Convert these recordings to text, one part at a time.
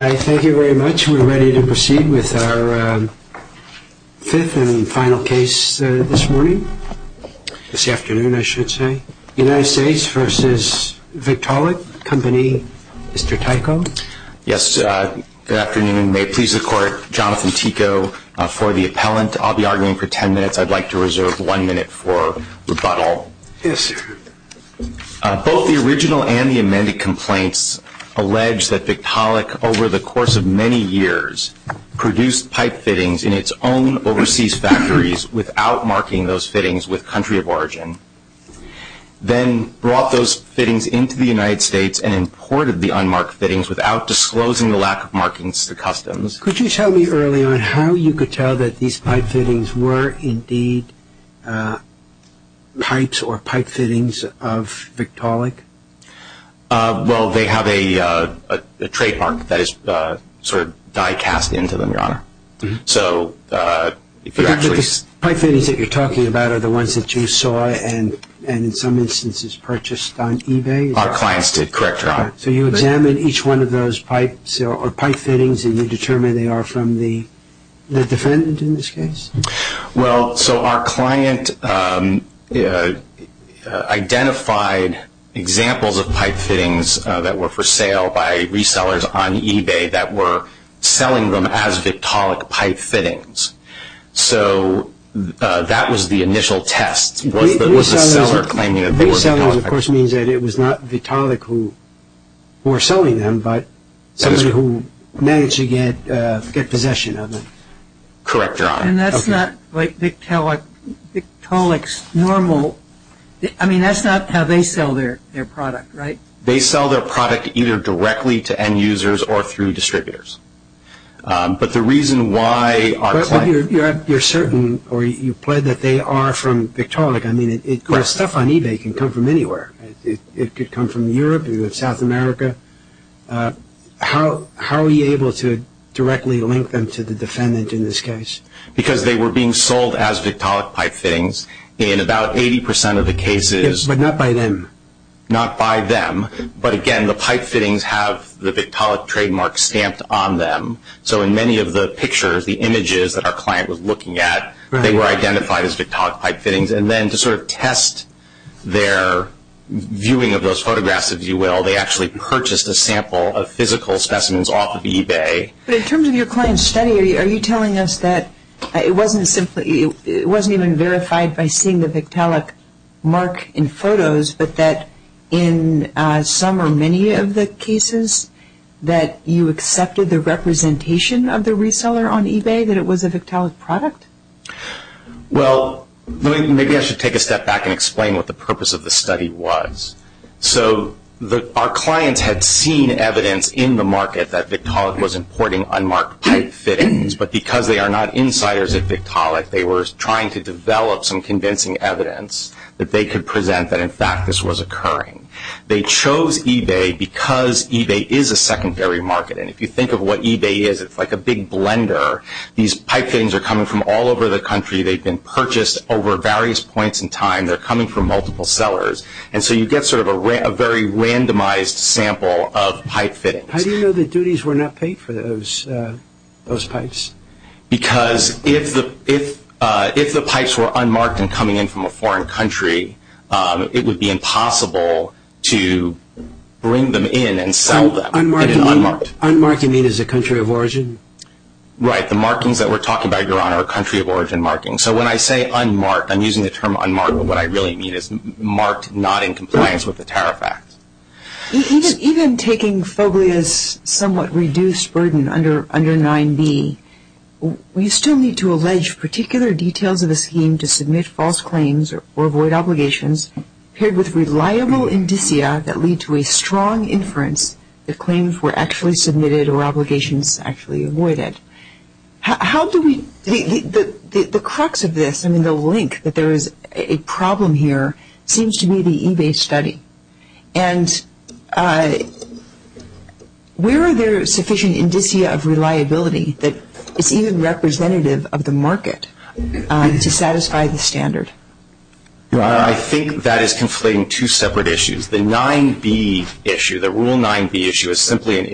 I thank you very much. We're ready to proceed with our fifth and final case this morning, this afternoon, I should say. United States v. Vicaulic Company. Mr. Tyco. Yes, good afternoon. May it please the court, Jonathan Tyco for the appellant. I'll be arguing for 10 minutes. I'd like to reserve one minute for rebuttal. Yes, sir. Both the original and of many years produced pipe fittings in its own overseas factories without marking those fittings with country of origin. Then brought those fittings into the United States and imported the unmarked fittings without disclosing the lack of markings to customs. Could you tell me early on how you could tell that these pipe fittings were indeed pipes or pipe fittings of Victaulic? Well, they have a trademark that is sort of die cast into them, your honor. So if you're actually pipe fittings that you're talking about are the ones that you saw and and in some instances purchased on eBay? Our clients did, correct your honor. So you examine each one of those pipes or pipe fittings and you determine they are from the defendant in this case? Well, so our client identified examples of pipe fittings that were for sale by resellers on eBay that were selling them as Victaulic pipe fittings. So that was the initial test. Was the seller claiming that they were Victaulic pipe fittings? Resellers, of course, means that it was not Victaulic who were selling them, but somebody managed to get possession of them. Correct your honor. And that's not like Victaulic's normal, I mean that's not how they sell their product, right? They sell their product either directly to end users or through distributors. But the reason why our client... But you're certain or you plead that they are from Victaulic. I mean, stuff on eBay can come from anywhere. It could come from Europe, South America. How are you able to directly link them to the defendant in this case? Because they were being sold as Victaulic pipe fittings in about 80% of the cases. But not by them. Not by them. But again, the pipe fittings have the Victaulic trademark stamped on them. So in many of the pictures, the images that our client was looking at, they were identified as Victaulic pipe fittings. And then to sort of test their viewing of those photographs, if you will, they actually purchased a sample of physical specimens off of eBay. But in terms of your client's study, are you telling us that it wasn't simply... It wasn't even verified by seeing the Victaulic mark in photos, but that in some or many of the cases that you accepted the representation of the reseller on the photograph? Maybe I should take a step back and explain what the purpose of the study was. So our clients had seen evidence in the market that Victaulic was importing unmarked pipe fittings. But because they are not insiders at Victaulic, they were trying to develop some convincing evidence that they could present that in fact this was occurring. They chose eBay because eBay is a secondary market. And if you think of what eBay is, it's like a big blender. These pipe fittings are coming from all over the country. They've been purchased over various points in time. They're coming from multiple sellers. And so you get sort of a very randomized sample of pipe fittings. How do you know the duties were not paid for those pipes? Because if the pipes were unmarked and coming in from a foreign country, it would be impossible to bring them in and sell them. Unmarked you mean as a country of origin? Right. The markings that we're talking about, Your Honor, are country of origin markings. So when I say unmarked, I'm using the term unmarked, but what I really mean is marked not in compliance with the Tariff Act. Even taking Foglia's somewhat reduced burden under 9b, we still need to allege particular details of a scheme to submit false claims or avoid obligations paired with reliable indicia that lead to a strong inference that claims were actually submitted or obligations actually avoided. The crux of this, I mean the link that there is a problem here, seems to be the eBay study. And where are there sufficient indicia of reliability that is even representative of the market to satisfy the standard? I think that is conflating two separate issues. The 9b issue, the Rule 9b issue, is simply an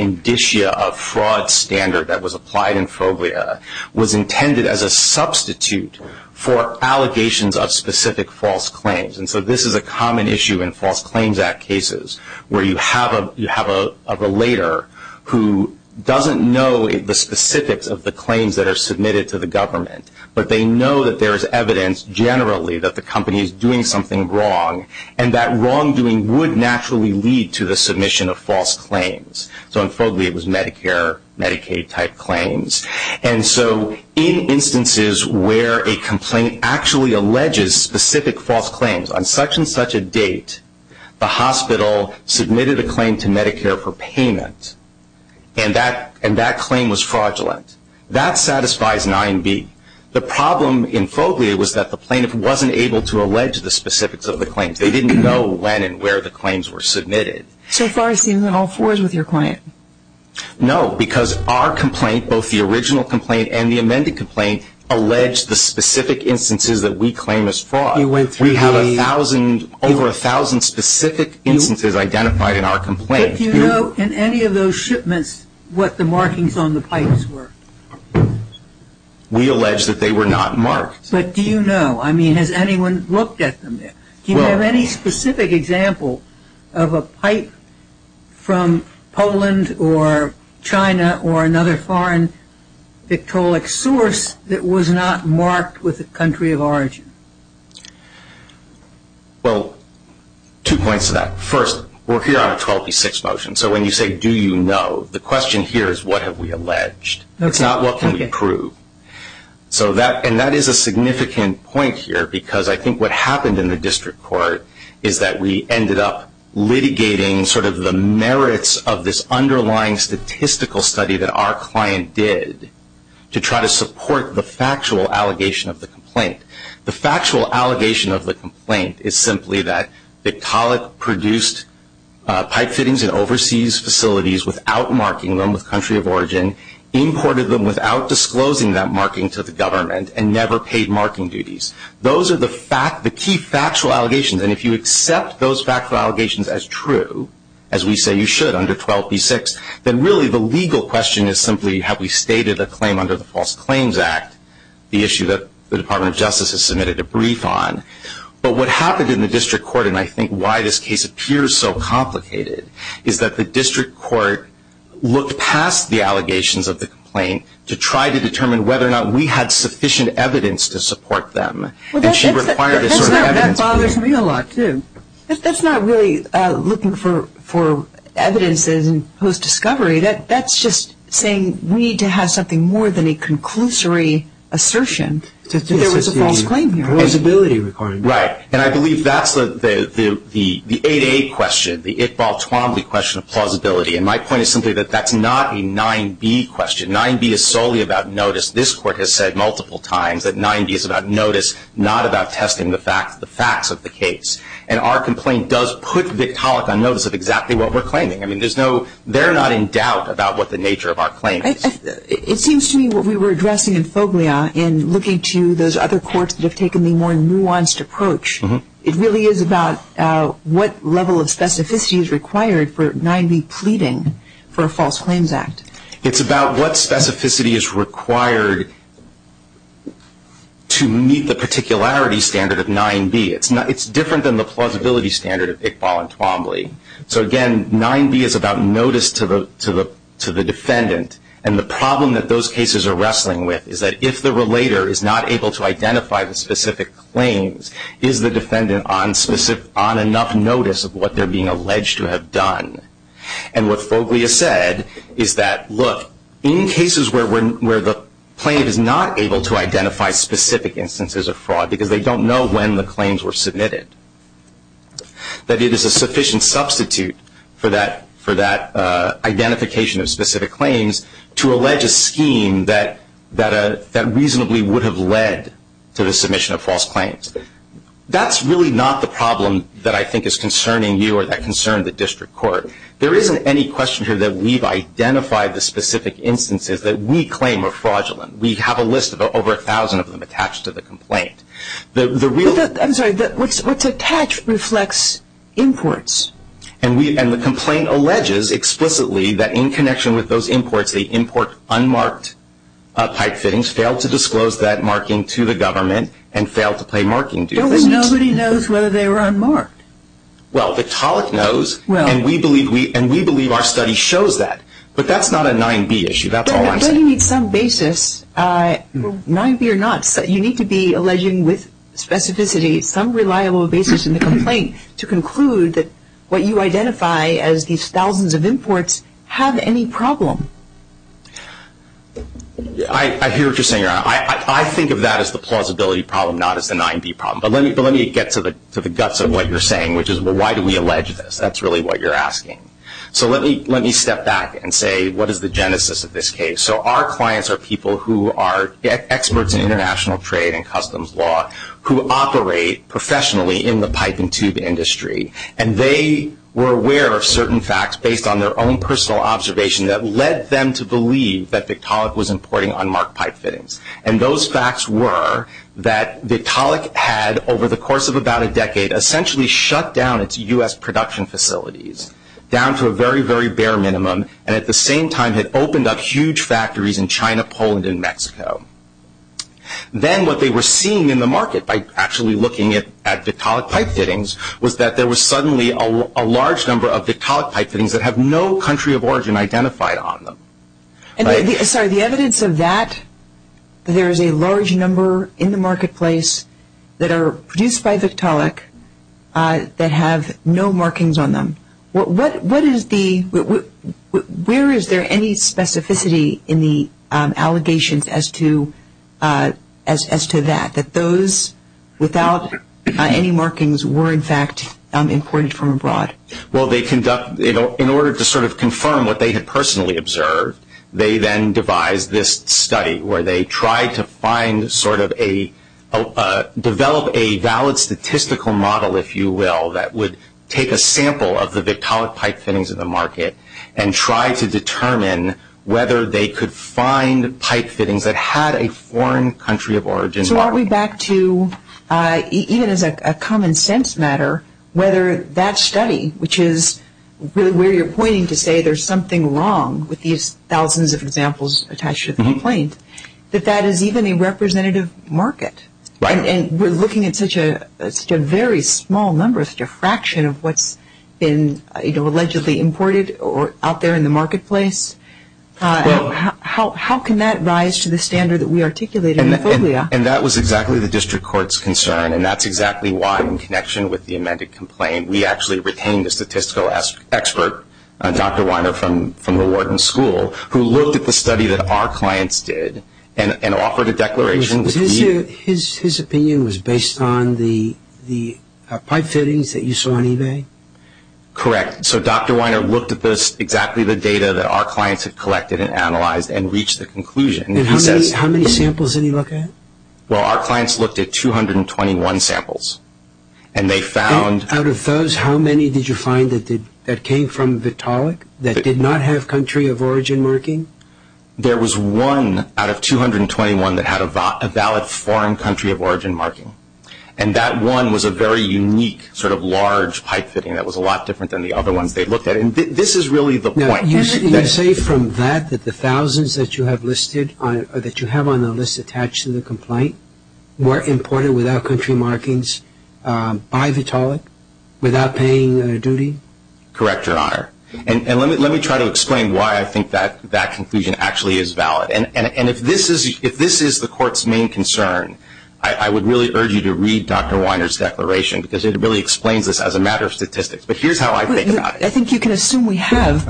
indicia of fraud standard that was applied in Foglia, was intended as a substitute for allegations of specific false claims. And so this is a common issue in False Claims Act cases, where you have a relater who doesn't know the specifics of the claims that are submitted to the government, but they know that there is evidence generally that the company is doing something wrong, and that wrongdoing would naturally lead to the submission of false claims. So in Foglia it was Medicare, Medicaid type claims. And so in instances where a complaint actually alleges specific false claims, on such and such a date, the hospital submitted a claim to Medicare for payment, and that claim was fraudulent. That satisfies 9b. The problem in Foglia was that the plaintiff wasn't able to allege the specifics of the claims. They didn't know when and where the claims were submitted. So far it seems in all fours with your client. No, because our complaint, both the original complaint and the amended complaint, alleged the specific instances that we claim as fraud. We have over a thousand specific instances identified in our complaint. But do you know in any of those shipments what the markings on the pipes were? We allege that they were not marked. But do you know? I mean, has anyone looked at them yet? Do you have any specific example of a pipe from Poland or China or another foreign ectolic source that was not marked with the country of origin? Well, two points to that. First, we're here on a 12p6 motion. So when you say, do you know, the question here is, what have we alleged? It's not what can we prove. And that is a significant point here, because I think what happened in the district court is that we ended up litigating sort of the merits of this underlying statistical study that our client did to try to support the factual allegation of the complaint. The factual allegation of the without marking them with country of origin, imported them without disclosing that marking to the government, and never paid marking duties. Those are the key factual allegations. And if you accept those factual allegations as true, as we say you should under 12p6, then really the legal question is simply, have we stated a claim under the False Claims Act, the issue that the Department of Justice has submitted a brief on? But what happened in the district court, and I think why this case appears so complicated, is that the district court looked past the allegations of the complaint to try to determine whether or not we had sufficient evidence to support them. And she required this sort of evidence. That bothers me a lot, too. That's not really looking for evidence in post-discovery. That's just saying we need to have something more than a conclusory assertion that there was a false claim here. A plausibility requirement. Right. And I believe that's the 8a question, the Iqbal Twombly question of plausibility. And my point is simply that that's not a 9b question. 9b is solely about notice. This court has said multiple times that 9b is about notice, not about testing the facts of the case. And our complaint does put Victaulic on notice of exactly what we're claiming. I mean, there's no, they're not in doubt about what the nature of our claim is. It seems to me what we were addressing in Foglia in looking to those other courts that taken the more nuanced approach, it really is about what level of specificity is required for 9b pleading for a false claims act. It's about what specificity is required to meet the particularity standard of 9b. It's different than the plausibility standard of Iqbal and Twombly. So again, 9b is about notice to the defendant. And the problem that those cases are wrestling with is that if the relator is not able to identify the specific claims, is the defendant on enough notice of what they're being alleged to have done? And what Foglia said is that, look, in cases where the plaintiff is not able to identify specific instances of fraud because they don't know when the claims were submitted, that it is a sufficient substitute for that identification of specific claims to allege a that reasonably would have led to the submission of false claims. That's really not the problem that I think is concerning you or that concerned the district court. There isn't any question here that we've identified the specific instances that we claim are fraudulent. We have a list of over 1,000 of them attached to the complaint. I'm sorry. What's attached reflects imports. And the complaint alleges explicitly that in connection with those imports, they import unmarked pipe fittings, failed to disclose that marking to the government, and failed to pay marking due. Nobody knows whether they were unmarked. Well, Victaulic knows, and we believe our study shows that. But that's not a 9b issue. That's all I'm saying. But you need some basis. 9b or not, you need to be alleging with specificity some reliable basis in the complaint to conclude that what you identify as these thousands of imports have any problem. Yeah. I hear what you're saying, Your Honor. I think of that as the plausibility problem, not as the 9b problem. But let me get to the guts of what you're saying, which is, well, why do we allege this? That's really what you're asking. So let me step back and say, what is the genesis of this case? So our clients are people who are experts in international trade and customs law who operate professionally in the pipe and tube industry. And they were aware of certain facts based on their own personal observation that led them to believe that Victaulic was importing unmarked pipe fittings. And those facts were that Victaulic had, over the course of about a decade, essentially shut down its U.S. production facilities, down to a very, very bare minimum, and at the same time had opened up huge factories in China, Poland, and Mexico. Then what they were seeing in the market by actually looking at Victaulic pipe fittings was that there was suddenly a large number of Victaulic pipe fittings that have no country of origin identified on them. And the evidence of that, there is a large number in the marketplace that are produced by Victaulic that have no markings on them. What is the, where is there any specificity in the allegations as to that, that those without any markings were, in fact, imported from abroad? Well, they conduct, in order to sort of confirm what they had personally observed, they then devised this study where they tried to find sort of a, develop a valid statistical model, if you will, that would take a sample of the Victaulic pipe fittings in the market and try to determine whether they could find pipe fittings that had a foreign country of origin. So aren't we back to, even as a common sense matter, whether that study, which is really where you're pointing to say there's something wrong with these thousands of examples attached to the complaint, that that is even a representative market? Right. And we're looking at such a very small number, such a fraction of what's been, you know, allegedly imported or out there in the marketplace. How can that rise to the standard that we articulated in FOBIA? And that was exactly the district court's concern. And that's exactly why, in connection with the amended complaint, we actually retained a statistical expert, Dr. Weiner from the Wharton School, who looked at the study that our clients did and offered a declaration. His opinion was based on the pipe fittings that you saw on eBay? Correct. So Dr. Weiner looked at exactly the data that our clients had collected and analyzed and reached the conclusion. And how many samples did he look at? Well, our clients looked at 221 samples. And they found... Out of those, how many did you find that came from Victaulic that did not have country of origin marking? There was one out of 221 that had a valid foreign country of origin marking. And that one was a very unique sort of large pipe fitting that was a lot different than the other ones they looked at. And this is really the point. Now, you say from that, that the thousands that you have listed on, that you have on the list attached to the complaint were imported without country markings by Vitaulic without paying a duty? Correct, Your Honor. And let me try to explain why I think that conclusion actually is valid. And if this is the court's main concern, I would really urge you to read Dr. Weiner's declaration because it really explains this as a matter of statistics. But here's how I think about it. I think you can assume we have.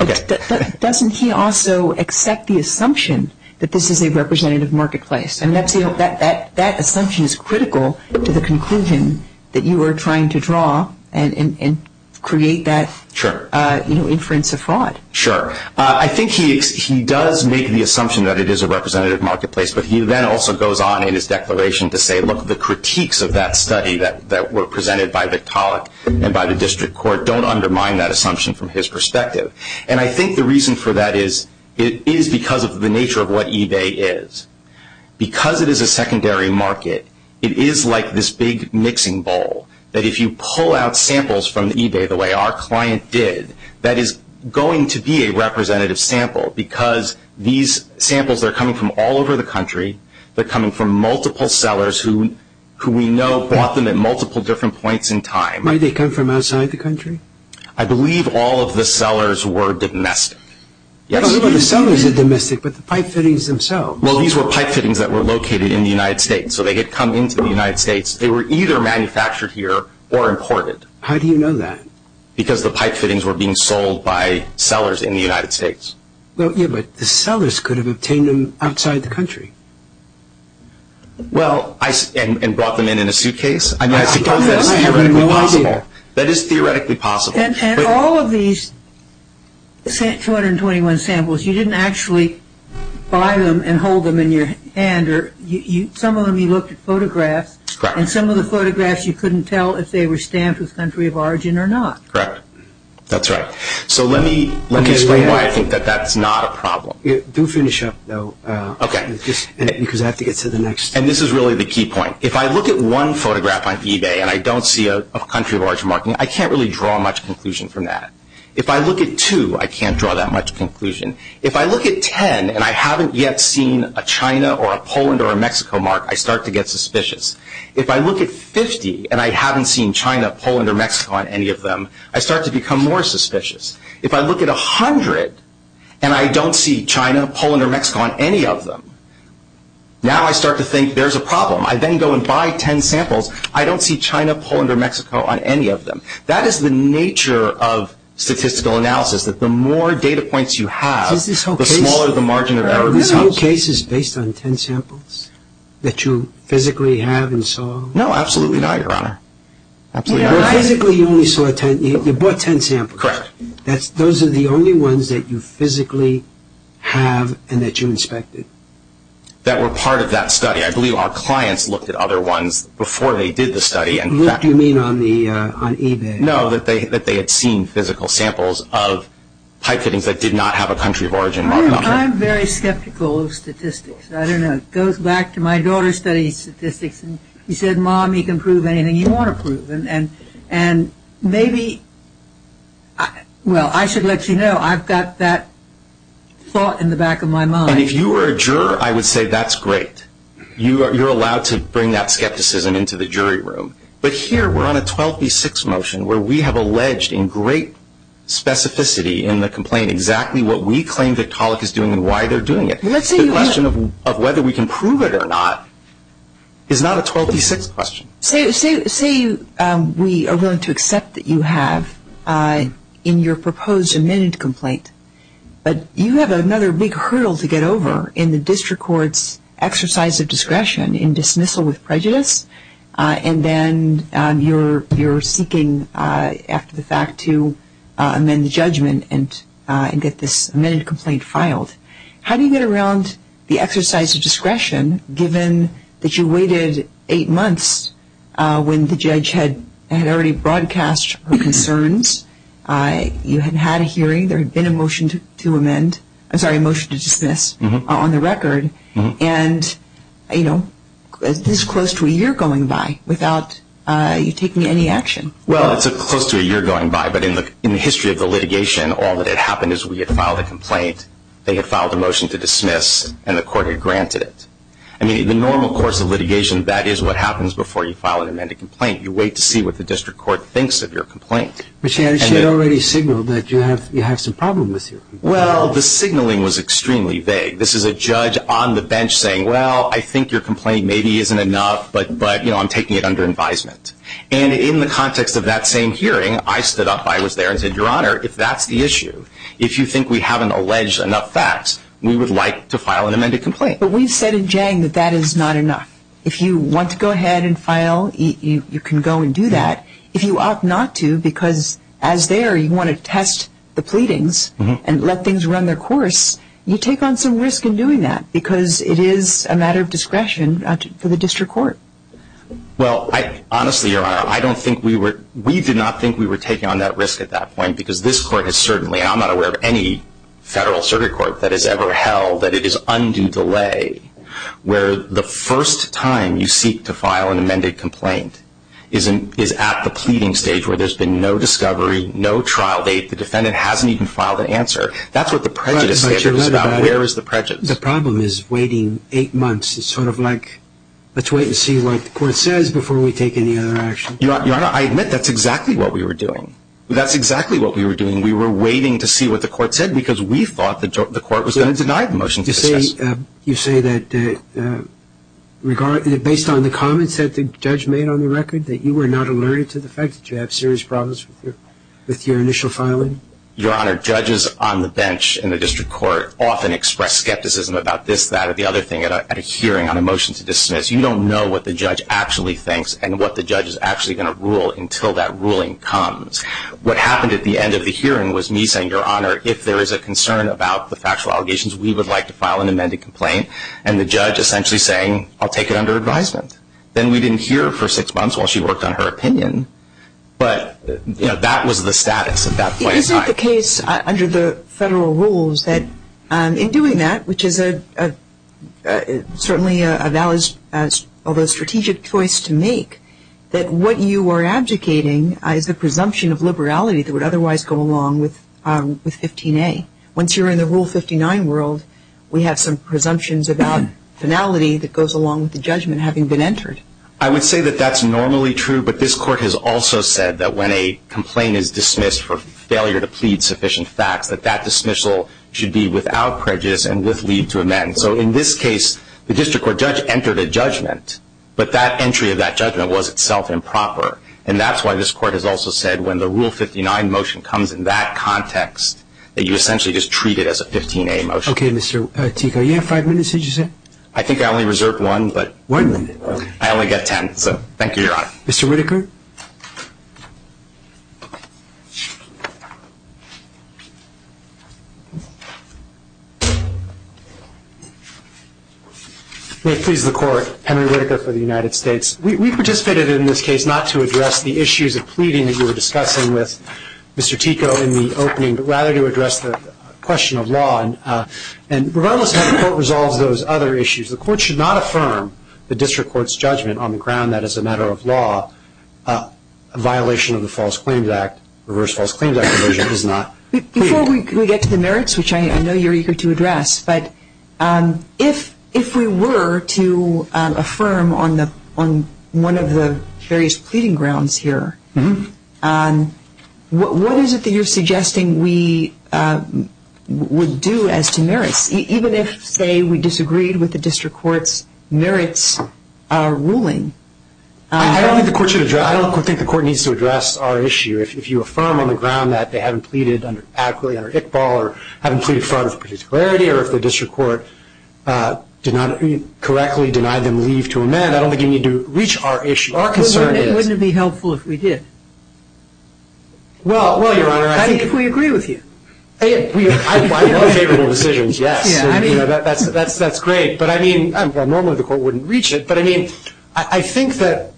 Doesn't he also accept the assumption that this is a representative marketplace? And that assumption is critical to the conclusion that you are trying to draw and create that... Sure. Sure. I think he does make the assumption that it is a representative marketplace. But he then also goes on in his declaration to say, look, the critiques of that study that were presented by Vitaulic and by the district court don't undermine that assumption from his perspective. And I think the reason for that is it is because of the nature of what eBay is. Because it is a secondary market, it is like this big mixing bowl that if you pull out samples from eBay the way our client did, that is going to be a representative sample. Because these samples are coming from all over the country. They're coming from multiple sellers who we know bought them at multiple different points in time. Might they come from outside the country? I believe all of the sellers were domestic. Yes. But the sellers are domestic, but the pipe fittings themselves. Well, these were pipe fittings that were located in the United States. So they had come into the United States. They were either manufactured here or imported. How do you know that? Because the pipe fittings were being sold by sellers in the United States. Well, yeah, but the sellers could have obtained them outside the country. Well, and brought them in in a suitcase? I mean, I suppose that is theoretically possible. That is theoretically possible. And all of these 221 samples, you didn't actually buy them and hold them in your hand. Some of them you looked at photographs. And some of the photographs you couldn't tell if they were stamped with country of origin or not. Correct. That's right. So let me explain why I think that that's not a problem. Do finish up, though, because I have to get to the next. And this is really the key point. If I look at one photograph on eBay and I don't see a country of origin marking, I can't really draw much conclusion from that. If I look at two, I can't draw that much conclusion. If I look at 10 and I haven't yet seen a China or a Poland or a Mexico mark, I start to get suspicious. If I look at 50 and I haven't seen China, Poland, or Mexico on any of them, I start to become more suspicious. If I look at 100 and I don't see China, Poland, or Mexico on any of them, now I start to think there's a problem. I then go and buy 10 samples. I don't see China, Poland, or Mexico on any of them. That is the nature of statistical analysis, that the more data points you have, the smaller the margin of error. Were some cases based on 10 samples that you physically have and saw? No, absolutely not, Your Honor. Absolutely not. You basically only saw 10. You bought 10 samples. Correct. Those are the only ones that you physically have and that you inspected. That were part of that study. I believe our clients looked at other ones before they did the study. What do you mean on eBay? No, that they had seen physical samples of pipe fittings that did not have a country of origin marked on them. I'm very skeptical of statistics. I don't know. It goes back to my daughter studies statistics. She said, Mom, you can prove anything you want to prove. Maybe, well, I should let you know, I've got that thought in the back of my mind. If you were a juror, I would say that's great. You're allowed to bring that skepticism into the jury room. But here, we're on a 12 v 6 motion where we have alleged in great specificity in the complaint exactly what we claim Victaulic is doing and why they're doing it. The question of whether we can prove it or not is not a 12 v 6 question. Say we are willing to accept that you have in your proposed amended complaint, but you have another big hurdle to get over in the district court's exercise of discretion in dismissal with prejudice. And then you're seeking after the fact to amend the judgment and get this amended complaint filed. How do you get around the exercise of discretion given that you waited eight months when the judge had already broadcast her concerns, you had had a hearing, there had been a motion to amend, I'm sorry, a motion to dismiss on the record, and this is close to a year going by without you taking any action? Well, it's close to a year going by, but in the history of the litigation, all that had happened is we had filed a complaint, they had filed a motion to dismiss, and the court had granted it. I mean, in the normal course of litigation, that is what happens before you file an amended complaint. You wait to see what the district court thinks of your complaint. But Shannon, she had already signaled that you have some problem with your complaint. Well, the signaling was extremely vague. This is a judge on the bench saying, well, I think your complaint maybe isn't enough, but I'm taking it under advisement. And in the context of that same hearing, I stood up, I was there and said, Your Honor, if that's the issue, if you think we haven't alleged enough facts, we would like to file an amended complaint. But we've said in Jang that that is not enough. If you want to go ahead and file, you can go and do that. If you opt not to because as there, you want to test the pleadings and let things run their course, you take on some risk in doing that because it is a matter of discretion for the district court. Well, honestly, Your Honor, I don't think we were, we did not think we were taking on that risk at that point, because this court has certainly, and I'm not aware of any federal circuit court that has ever held that it is undue delay where the first time you seek to file an amended complaint is at the pleading stage where there's been no discovery, no trial date, the defendant hasn't even filed an answer. That's what the prejudice is about. Where is the prejudice? The problem is waiting eight months. It's sort of like, let's wait and see what the court says before we take any other action. Your Honor, I admit that's exactly what we were doing. That's exactly what we were doing. We were waiting to see what the court said because we thought the court was going to deny the motion. You say that based on the comments that the judge made on the record, that you were not alerted to the fact that you have serious problems with your initial filing? Your Honor, judges on the bench in the district court often express skepticism about this, that, or the other thing at a hearing on a motion to dismiss. You don't know what the judge actually thinks and what the judge is actually going to rule until that ruling comes. What happened at the end of the hearing was me saying, Your Honor, if there is a concern about the factual allegations, we would like to file an amended complaint. And the judge essentially saying, I'll take it under advisement. Then we didn't hear for six months while she worked on her opinion. But that was the status at that point in time. Isn't the case under the federal rules that in doing that, which is certainly a valid, although strategic choice to make, that what you are abdicating is the presumption of liberality that would otherwise go along with 15A. Once you're in the Rule 59 world, we have some presumptions about finality that goes along with the judgment having been entered. I would say that that's normally true, but this court has also said that when a complaint is dismissed for failure to plead sufficient facts, that that dismissal should be without prejudice and with leave to amend. So in this case, the district court judge entered a judgment, but that entry of that judgment was itself improper. And that's why this court has also said when the Rule 59 motion comes in that context, that you essentially just treat it as a 15A motion. Okay, Mr. Tico, you have five minutes, did you say? One minute. I only got 10, so thank you, Your Honor. Mr. Whitaker? May it please the Court, Henry Whitaker for the United States. We participated in this case not to address the issues of pleading that you were discussing with Mr. Tico in the opening, but rather to address the question of law. And regardless of how the Court resolves those other issues, the Court should not affirm the district court's judgment on the ground that as a matter of law, a violation of the False Claims Act, Reverse False Claims Act provision is not pleading. Before we get to the merits, which I know you're eager to address, but if we were to affirm on one of the various pleading grounds here, what is it that you're suggesting we would do as to merits? Even if, say, we disagreed with the district court's merits, our ruling? I don't think the Court needs to address our issue. If you affirm on the ground that they haven't pleaded adequately under Iqbal, or haven't pleaded in front of the particularity, or if the district court did not correctly deny them leave to amend, I don't think you need to reach our issue. Our concern is... Wouldn't it be helpful if we did? Well, Your Honor, I think... How do you think we agree with you? I want favorable decisions, yes. That's great. But, I mean, normally the Court wouldn't reach it. But, I mean, I think that...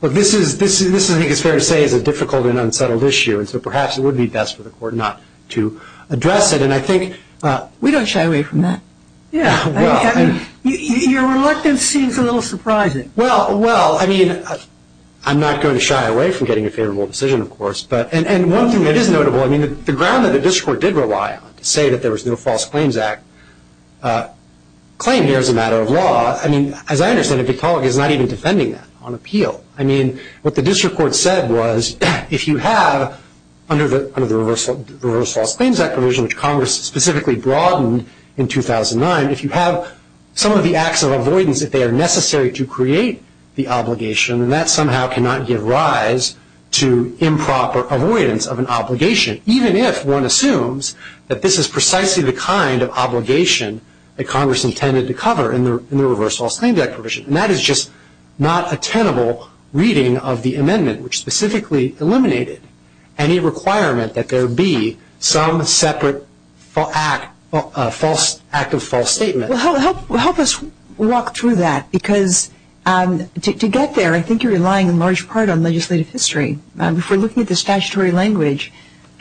Well, this is, I think it's fair to say, is a difficult and unsettled issue. And so perhaps it would be best for the Court not to address it. And I think... We don't shy away from that. Yeah. Your reluctance seems a little surprising. Well, well, I mean, I'm not going to shy away from getting a favorable decision, of course. And one thing that is notable, I mean, the ground that the district court did rely on to say that there was no False Claims Act claim here is a matter of law. I mean, as I understand it, the court is not even defending that on appeal. I mean, what the district court said was, if you have, under the reverse False Claims Act provision, which Congress specifically broadened in 2009, if you have some of the acts of avoidance, if they are necessary to create the obligation, then that somehow cannot give rise to improper avoidance of an obligation, even if one assumes that this is precisely the kind of obligation that Congress intended to cover in the reverse False Claims Act provision. And that is just not a tenable reading of the amendment, which specifically eliminated any requirement that there be some separate act of false statement. Well, help us walk through that. Because to get there, I think you're relying in large part on legislative history. If we're looking at the statutory language,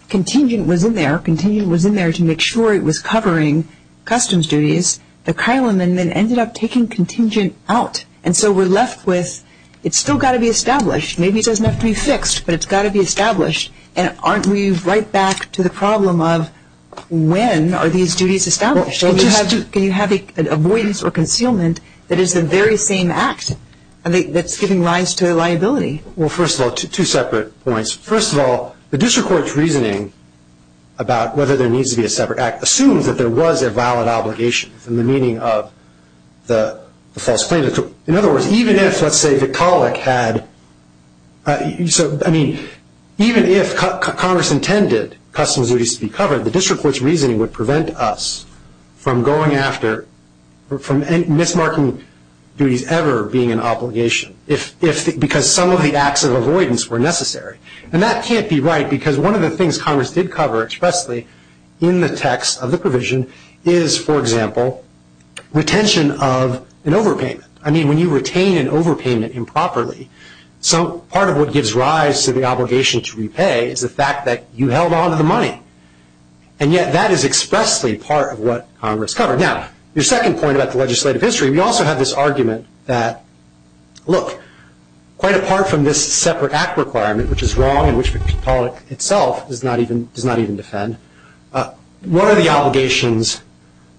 contingent was in there. Contingent was in there to make sure it was covering customs duties. The Kilem amendment ended up taking contingent out. And so we're left with, it's still got to be established. Maybe it doesn't have to be fixed, but it's got to be established. And aren't we right back to the problem of when are these duties established? Can you have an avoidance or concealment that is the very same act that's giving rise to a liability? Well, first of all, two separate points. First of all, the district court's reasoning about whether there needs to be a separate act assumes that there was a valid obligation in the meaning of the false claim. In other words, even if, let's say, the Kilem had, I mean, even if Congress intended customs duties to be covered, the district court's reasoning would prevent us from going after, from any mismarking duties ever being an obligation, because some of the acts of avoidance were necessary. And that can't be right, because one of the things Congress did cover expressly in the text of the provision is, for example, retention of an overpayment. I mean, when you retain an overpayment improperly, so part of what gives rise to the obligation to repay is the fact that you held on to the money. And yet, that is expressly part of what Congress covered. Now, your second point about the legislative history, we also have this argument that, look, quite apart from this separate act requirement, which is wrong and which the public itself does not even defend, what are the obligations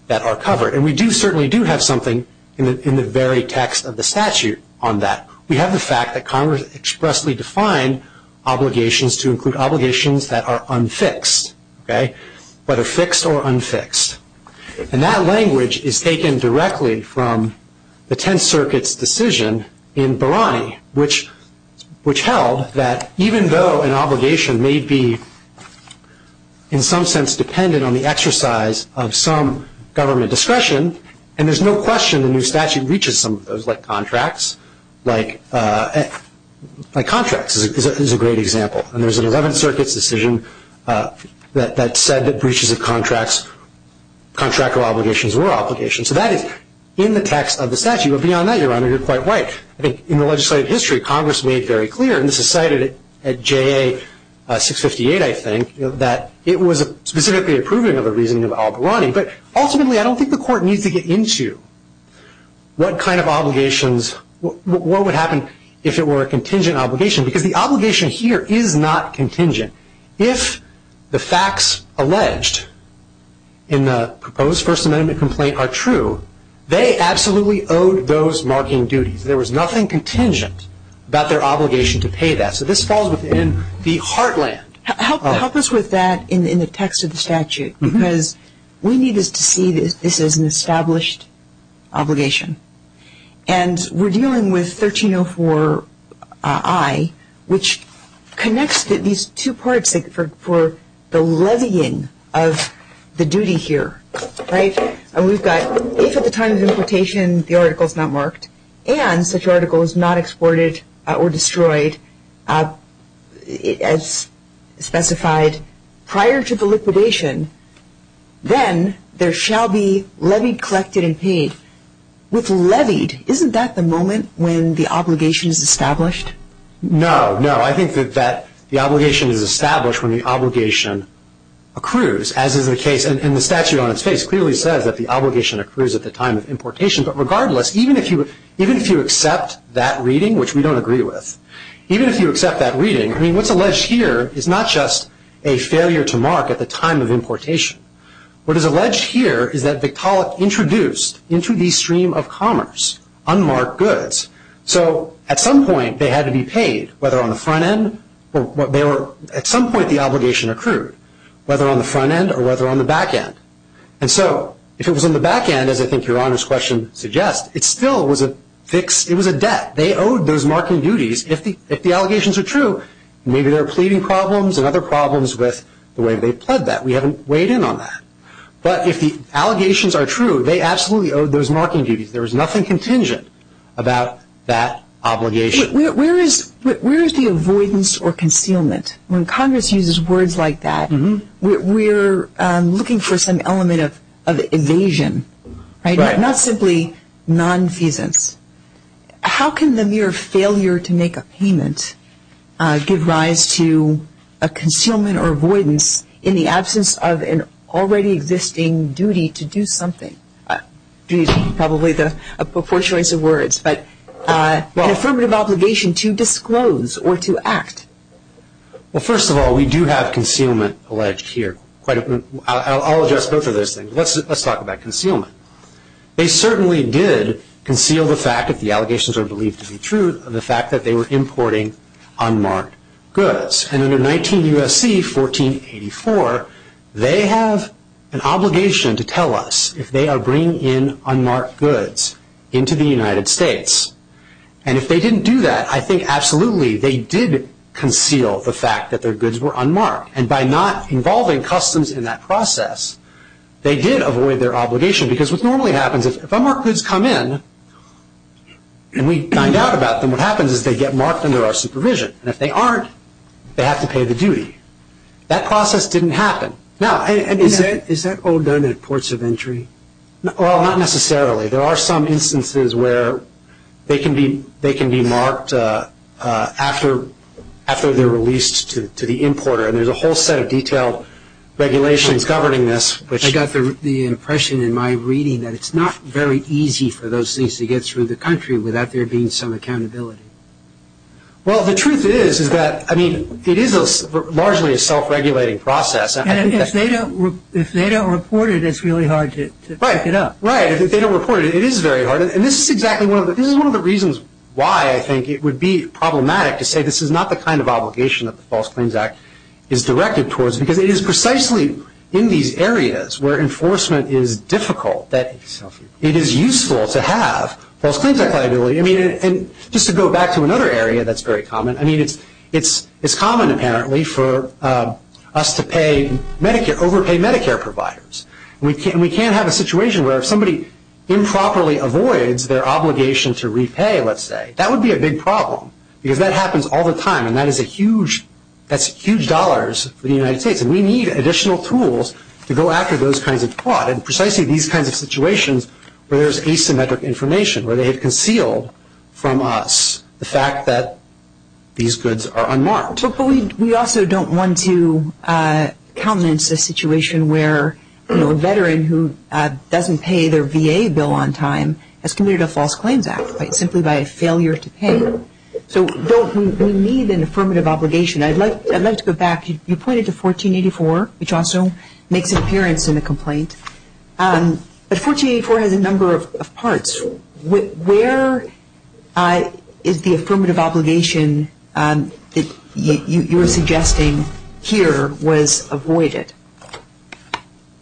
that are covered? And we do certainly do have something in the very text of the statute on that. We have the fact that Congress expressly defined obligations to include obligations that are unfixed, whether fixed or unfixed. And that language is taken directly from the Tenth Circuit's decision in Barani, which held that even though an obligation may be, in some sense, dependent on the exercise of some government discretion, and there's no question the new statute reaches some of those, like contracts, like contracts is a great example. And there's an Eleventh Circuit's decision that said that breaches of contracts, contractual obligations, were obligations. So that is in the text of the statute. But beyond that, Your Honor, you're quite right. I think in the legislative history, Congress made very clear, and this is cited at JA 658, I think, that it was specifically approving of a reasoning of Al Barani. But ultimately, I don't think the Court needs to get into what kind of obligations, what would happen if it were a contingent obligation, because the obligation here is not contingent. If the facts alleged in the proposed First Amendment complaint are true, they absolutely owed those marking duties. There was nothing contingent about their obligation to pay that. So this falls within the heartland. Help us with that in the text of the statute, because we need this to see this as an established obligation. And we're dealing with 1304I, which connects these two parts for the levying of the duty here. Right? And we've got, if at the time of importation the article is not marked, and such article is not exported or destroyed, as specified prior to the liquidation, then there shall be levied, collected, and paid. With levied, isn't that the moment when the obligation is established? No, no. I think that the obligation is established when the obligation accrues, as is the case. And the statute on its face clearly says that the obligation accrues at the time of importation. But regardless, even if you accept that reading, which we don't agree with, even if you accept that reading, I mean, what's alleged here is not just a failure to mark at the time of importation. What is alleged here is that Victaulic introduced into the stream of commerce unmarked goods. So at some point they had to be paid, whether on the front end or what they were, at some point the obligation accrued, whether on the front end or whether on the back end. And so if it was on the back end, as I think Your Honor's question suggests, it still was a fix, it was a debt. They owed those marking duties. If the allegations are true, maybe there are pleading problems and other problems with the way they pled that. We haven't weighed in on that. But if the allegations are true, they absolutely owed those marking duties. There was nothing contingent about that obligation. Where is the avoidance or concealment? When Congress uses words like that, we're looking for some element of evasion, right? Not simply nonfeasance. How can the mere failure to make a payment give rise to a concealment or avoidance in the absence of an already existing duty to do something? Probably a poor choice of words, but an affirmative obligation to disclose or to act. Well, first of all, we do have concealment alleged here. I'll address both of those things. Let's talk about concealment. They certainly did conceal the fact, if the allegations are believed to be true, of the fact that they were importing unmarked goods. And under 19 U.S.C. 1484, they have an obligation to tell us if they are bringing in unmarked goods into the United States. And if they didn't do that, I think absolutely they did conceal the fact that their goods were unmarked. And by not involving customs in that process, they did avoid their obligation. Because what normally happens, if unmarked goods come in and we find out about them, what happens is they get marked under our supervision. And if they aren't, they have to pay the duty. That process didn't happen. Now, is that all done at ports of entry? Well, not necessarily. There are some instances where they can be marked after they're released to the importer. And there's a whole set of detailed regulations governing this, which— It's not very easy for those things to get through the country without there being some accountability. Well, the truth is, is that, I mean, it is largely a self-regulating process. And if they don't report it, it's really hard to pick it up. Right. If they don't report it, it is very hard. And this is exactly one of the reasons why I think it would be problematic to say this is not the kind of obligation that the False Claims Act is directed towards. Because it is precisely in these areas where enforcement is difficult that it is useful to have False Claims Act liability. I mean, and just to go back to another area that's very common, I mean, it's common, apparently, for us to pay Medicare, overpay Medicare providers. We can't have a situation where if somebody improperly avoids their obligation to repay, let's say, that would be a big problem. Because that happens all the time. And that is a huge, that's huge dollars for the United States. And we need additional tools to go after those kinds of fraud. And precisely these kinds of situations where there's asymmetric information, where they have concealed from us the fact that these goods are unmarked. But we also don't want to countenance a situation where a veteran who doesn't pay their VA bill on time has committed a False Claims Act simply by a failure to pay. So we need an affirmative obligation. I'd like to go back. You pointed to 1484, which also makes an appearance in the complaint. But 1484 has a number of parts. Where is the affirmative obligation that you're suggesting here was avoided?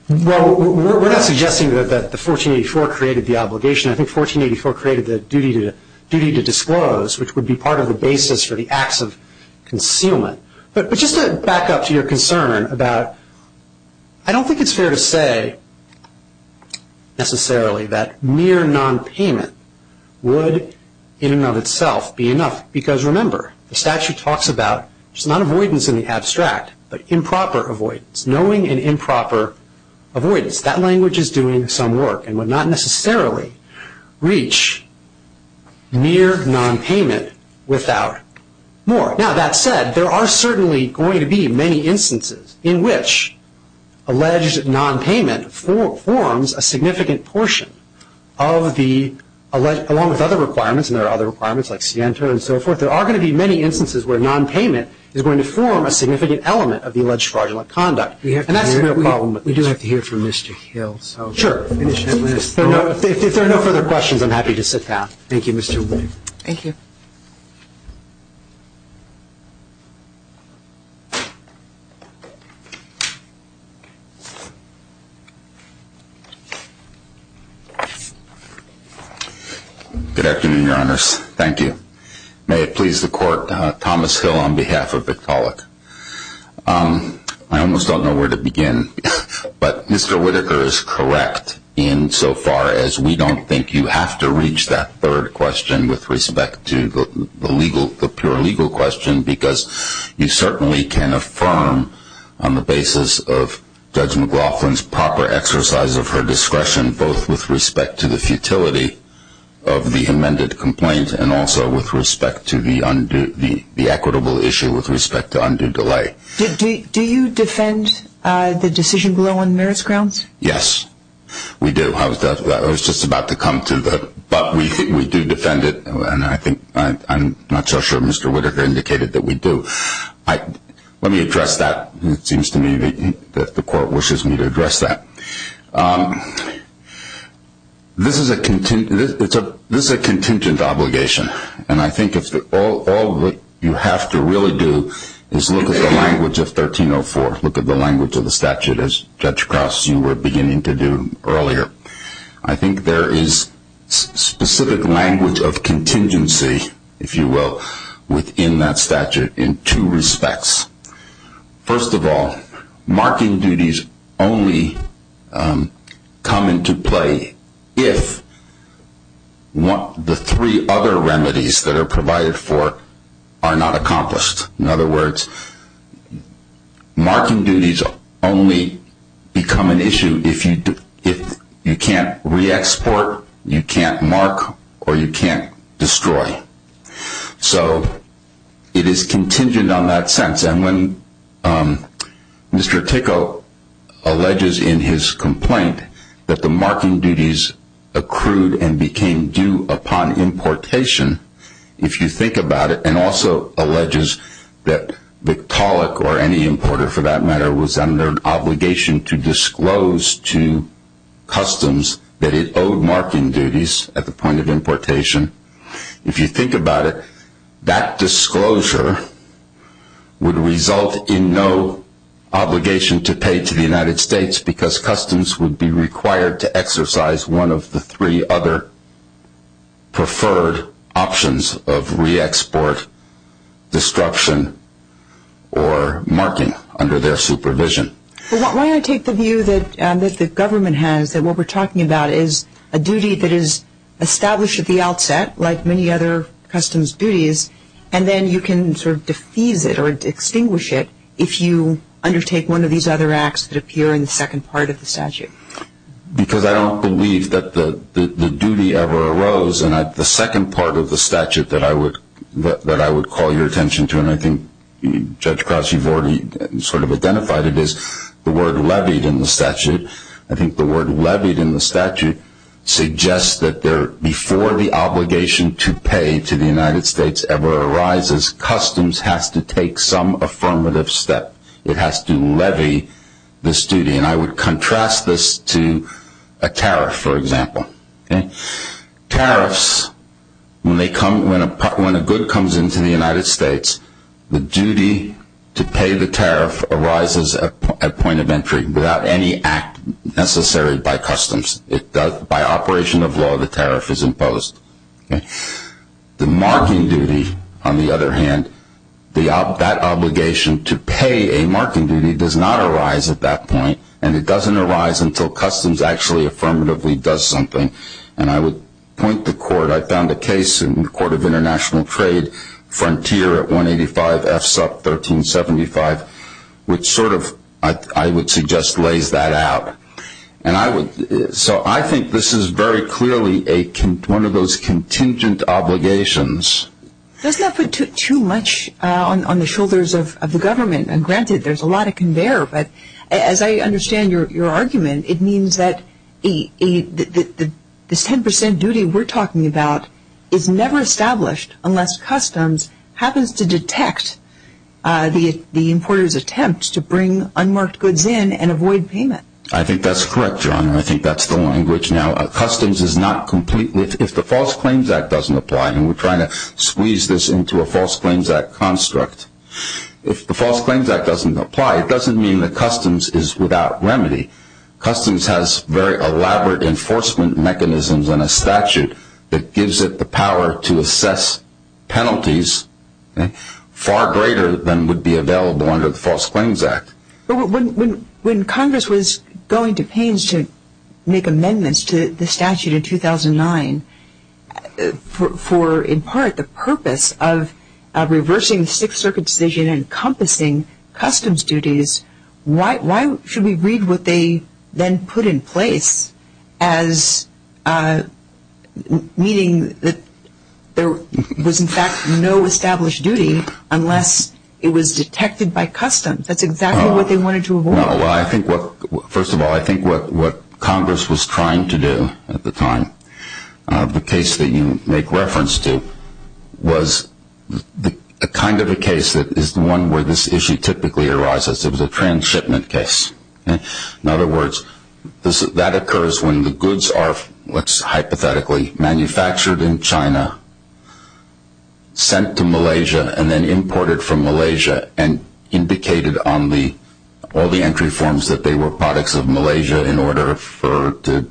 Well, we're not suggesting that the 1484 created the obligation. I think 1484 created the duty to disclose, which would be part of the basis for the acts of concealment. But just to back up to your concern about, I don't think it's fair to say necessarily that mere nonpayment would in and of itself be enough. Because remember, the statute talks about not avoidance in the abstract, but improper avoidance. Knowing an improper avoidance. That language is doing some work. And would not necessarily reach mere nonpayment without more. Now, that said, there are certainly going to be many instances in which alleged nonpayment forms a significant portion of the, along with other requirements, and there are other requirements like Sienta and so forth. There are going to be many instances where nonpayment is going to form a significant element of the alleged fraudulent conduct. And that's the real problem with this. We do have to hear from Mr. Hill. Sure. If there are no further questions, I'm happy to sit down. Thank you, Mr. Whitaker. Thank you. Good afternoon, Your Honors. Thank you. May it please the Court, Thomas Hill on behalf of Victaulic. I almost don't know where to begin. But Mr. Whitaker is correct insofar as we don't think you have to reach that third question with respect to the legal, the pure legal question, because you certainly can affirm on the basis of Judge McLaughlin's proper exercise of her discretion, both with respect to the futility of the amended complaint and also with respect to the undue, the equitable issue with respect to undue delay. Do you defend the decision below on merits grounds? Yes, we do. I was just about to come to that. But we do defend it. And I think I'm not so sure Mr. Whitaker indicated that we do. Let me address that. It seems to me that the Court wishes me to address that. This is a contingent obligation. And I think if all you have to really do is look at the language of 1304, look at the language of the statute as Judge Crouse, you were beginning to do earlier. I think there is specific language of contingency, if you will, within that statute in two respects. First of all, marking duties only come into play if the three other remedies that are provided for are not accomplished. In other words, marking duties only become an issue if you can't re-export, you can't mark, or you can't destroy. So it is contingent on that sense. And when Mr. Tickle alleges in his complaint that the marking duties accrued and became due upon importation, if you think about it, and also alleges that Victaulic or any importer for that matter was under obligation to disclose to customs that it owed marking duties at the point of importation, if you think about it, that disclosure would result in no obligation to pay to the United States because customs would be required to exercise one of the three other preferred options of re-export, destruction, or marking under their supervision. Well, why don't I take the view that the government has that what we're talking about is a duty that is established at the outset, like many other customs duties, and then you can sort of defuse it or extinguish it if you undertake one of these other acts that appear in the second part of the statute? Because I don't believe that the duty ever arose, and the second part of the statute that I would call your attention to, and I think Judge Krause, you've already sort of I think the word levied in the statute suggests that before the obligation to pay to the United States ever arises, customs has to take some affirmative step. It has to levy this duty, and I would contrast this to a tariff, for example. Tariffs, when a good comes into the United States, the duty to pay the tariff arises at point of entry, without any act necessary by customs. By operation of law, the tariff is imposed. The marking duty, on the other hand, that obligation to pay a marking duty does not arise at that point, and it doesn't arise until customs actually affirmatively does something, and I would point the court, I found a case in the Court of International I would suggest lays that out. So I think this is very clearly one of those contingent obligations. Doesn't that put too much on the shoulders of the government? Granted, there's a lot of conveyor, but as I understand your argument, it means that this 10% duty we're talking about is never established unless customs happens to detect the importer's attempt to bring unmarked goods in and avoid payment. I think that's correct, Your Honor. I think that's the language. Now, customs is not complete. If the False Claims Act doesn't apply, and we're trying to squeeze this into a False Claims Act construct, if the False Claims Act doesn't apply, it doesn't mean that customs is without remedy. Customs has very elaborate enforcement mechanisms and a statute that gives it the power to assess penalties far greater than would be available under the False Claims Act. But when Congress was going to pains to make amendments to the statute in 2009, for in part the purpose of reversing the Sixth Circuit's decision encompassing customs duties, why should we read what they then put in place as a false claim? Meaning that there was in fact no established duty unless it was detected by customs. That's exactly what they wanted to avoid. Well, I think what, first of all, I think what Congress was trying to do at the time, the case that you make reference to was the kind of a case that is the one where this issue typically arises. It was a transshipment case. In other words, that occurs when the goods are, let's hypothetically, manufactured in China, sent to Malaysia, and then imported from Malaysia and indicated on all the entry forms that they were products of Malaysia in order to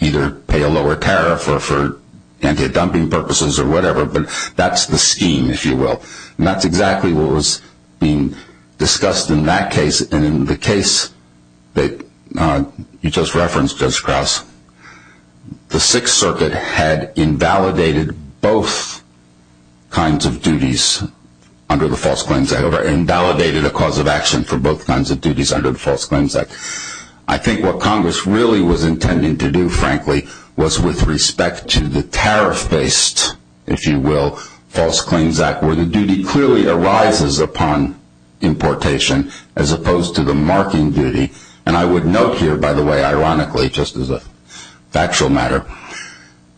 either pay a lower tariff or for anti-dumping purposes or whatever. But that's the scheme, if you will. And that's exactly what was being discussed in that case. And in the case that you just referenced, Judge Krauss, the Sixth Circuit had invalidated both kinds of duties under the False Claims Act or invalidated a cause of action for both kinds of duties under the False Claims Act. I think what Congress really was intending to do, frankly, was with respect to the tariff based, if you will, False Claims Act, where the duty clearly arises upon importation as opposed to the marking duty. And I would note here, by the way, ironically, just as a factual matter,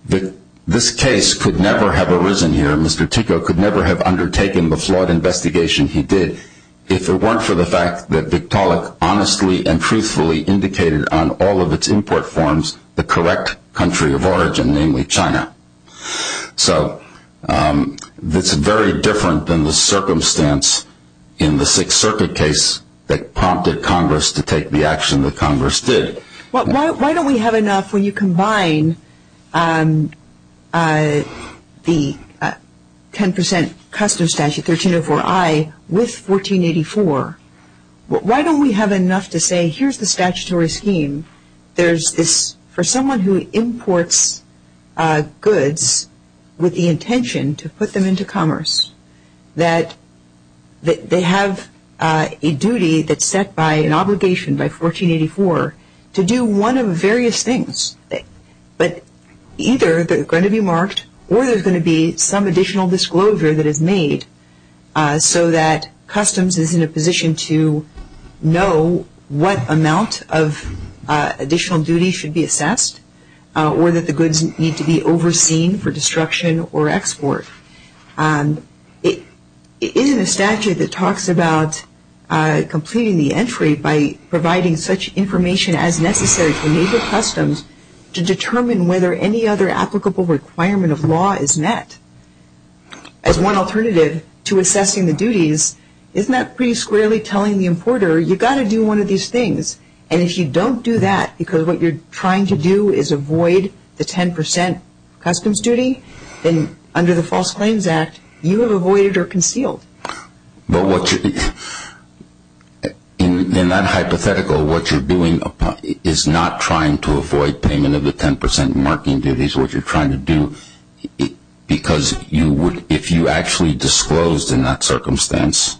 that this case could never have arisen here. Mr. Ticko could never have undertaken the flawed investigation he did if it weren't for the fact that Vitalik honestly and truthfully indicated on all of its import forms the correct country of origin, namely China. So that's very different than the circumstance in the Sixth Circuit case that prompted Congress to take the action that Congress did. Why don't we have enough when you combine the 10% custom statute, 1304I, with 1484? Why don't we have enough to say, here's the statutory scheme. There's this, for someone who imports goods with the intention to put them into commerce, that they have a duty that's set by an obligation by 1484 to do one of various things. But either they're going to be marked or there's going to be some additional disclosure that is additional duty should be assessed or that the goods need to be overseen for destruction or export. It isn't a statute that talks about completing the entry by providing such information as necessary to major customs to determine whether any other applicable requirement of law is met. As one alternative to assessing the duties, isn't that pretty squarely telling the importer, you've got to do one of these things. And if you don't do that, because what you're trying to do is avoid the 10% customs duty, then under the False Claims Act, you have avoided or concealed. In that hypothetical, what you're doing is not trying to avoid payment of the 10% marking duties. What you're trying to do, because if you actually disclosed in that circumstance,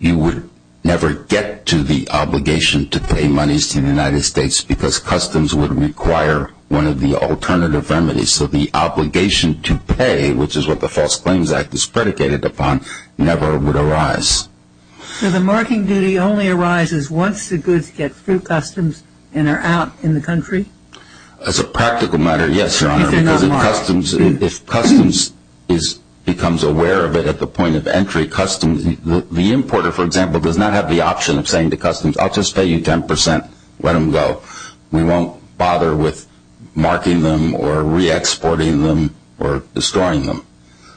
you would never get to the obligation to pay monies to the United States because customs would require one of the alternative remedies. So the obligation to pay, which is what the False Claims Act is predicated upon, never would arise. So the marking duty only arises once the goods get through customs and are out in the country? As a practical matter, yes, Your Honor. If they're not marked. The importer, for example, does not have the option of saying to customs, I'll just pay you 10%, let them go. We won't bother with marking them or re-exporting them or destroying them.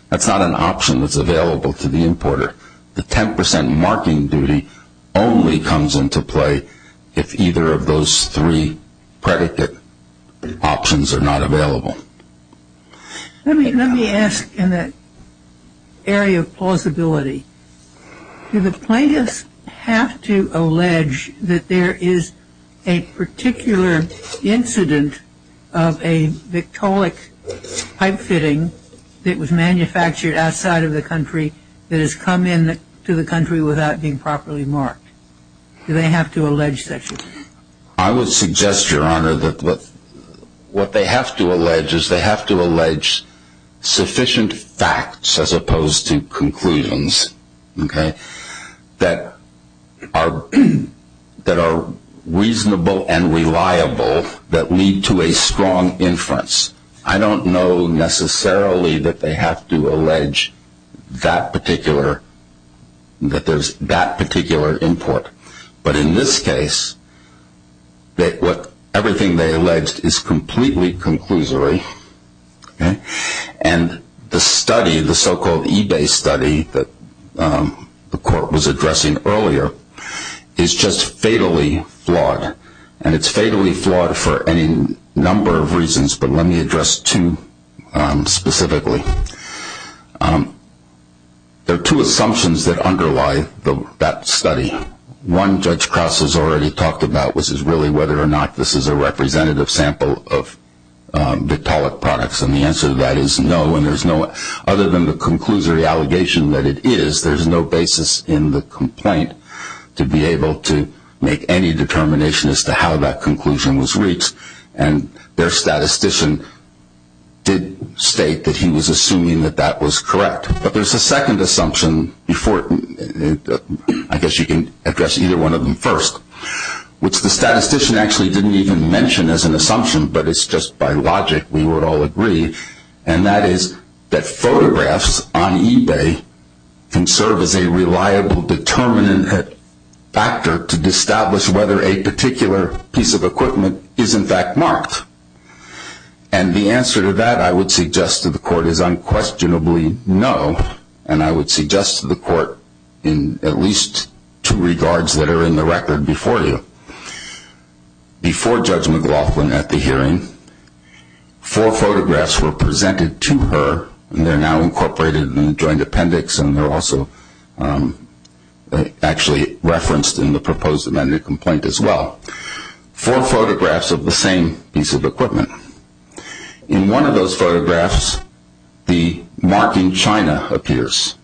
That's not an option that's available to the importer. The 10% marking duty only comes into play if either of those three predicate options are not available. Let me ask in that area of plausibility, do the plaintiffs have to allege that there is a particular incident of a Victaulic pipe fitting that was manufactured outside of the country that has come into the country without being properly marked? Do they have to allege such a thing? I would suggest, Your Honor, that what they have to allege is they have to allege sufficient facts as opposed to conclusions that are reasonable and reliable that lead to a strong inference. I don't know necessarily that they have to allege that particular import. But in this case, everything they allege is completely conclusory. And the study, the so-called eBay study that the court was addressing earlier, is just fatally flawed. And it's fatally flawed for any number of reasons, but let me address two specifically. There are two assumptions that underlie that study. One, Judge Crouse has already talked about, which is really whether or not this is a representative sample of Victaulic products. And the answer to that is no. And there's no other than the conclusory allegation that it is. There's no basis in the complaint to be able to make any determination as to how that conclusion was reached. And their statistician did state that he was assuming that that was correct. But there's a second assumption before, I guess you can address either one of them first, which the statistician actually didn't even mention as an assumption, but it's just by logic we would all agree. And that is that photographs on eBay can serve as a reliable determinant factor to establish whether a particular piece of equipment is in fact marked. And the answer to that, I would suggest to the court, is unquestionably no. And I would suggest to the court in at least two regards that are in the record before you. Before Judge McLaughlin at the hearing, four photographs were presented to her and they're now incorporated in the joint appendix and they're also actually referenced in the proposed amended complaint as well. Four photographs of the same piece of equipment. In one of those photographs, the marking China appears.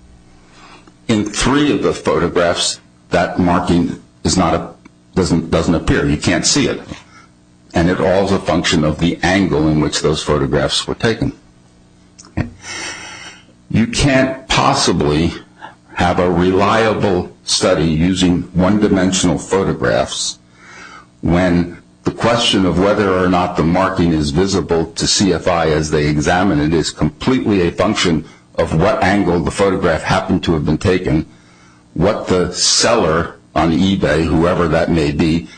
In three of the photographs, that marking doesn't appear. You can't see it. And it all is a function of the angle in which those photographs were taken. You can't possibly have a reliable study using one-dimensional photographs when the question of whether or not the marking is visible to CFI as they examine it is completely a function of what angle the photograph happened to have been taken, what the seller on eBay, whoever that may be,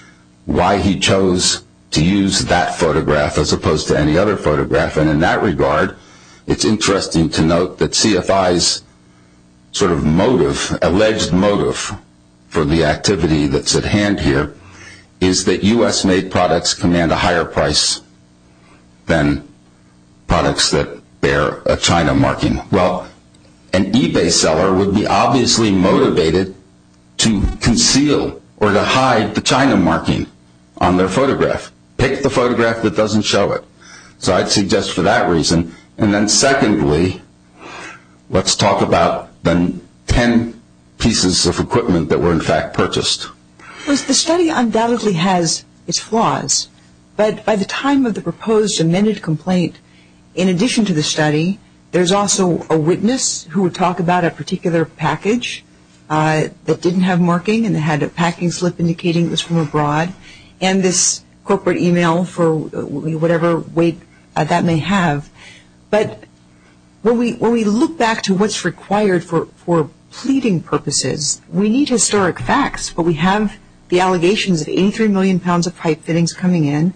why he chose to use that photograph as opposed to any other photograph. And in that regard, it's interesting to note that CFI's sort of motive, alleged motive for the activity that's at hand here is that U.S. made products command a higher price than products that bear a China marking. Well, an eBay seller would be obviously motivated to conceal or to hide the China marking on their photograph. Pick the photograph that doesn't show it. So I'd suggest for that reason. And then secondly, let's talk about the 10 pieces of equipment that were in fact purchased. Because the study undoubtedly has its flaws. But by the time of the proposed amended complaint, in addition to the study, there's also a witness who would talk about a particular package that didn't have marking and had a packing slip indicating it was from abroad. And this corporate email for whatever weight that may have. But when we look back to what's required for pleading purposes, we need historic facts. But we have the allegations of 83 million pounds of pipe fittings coming in.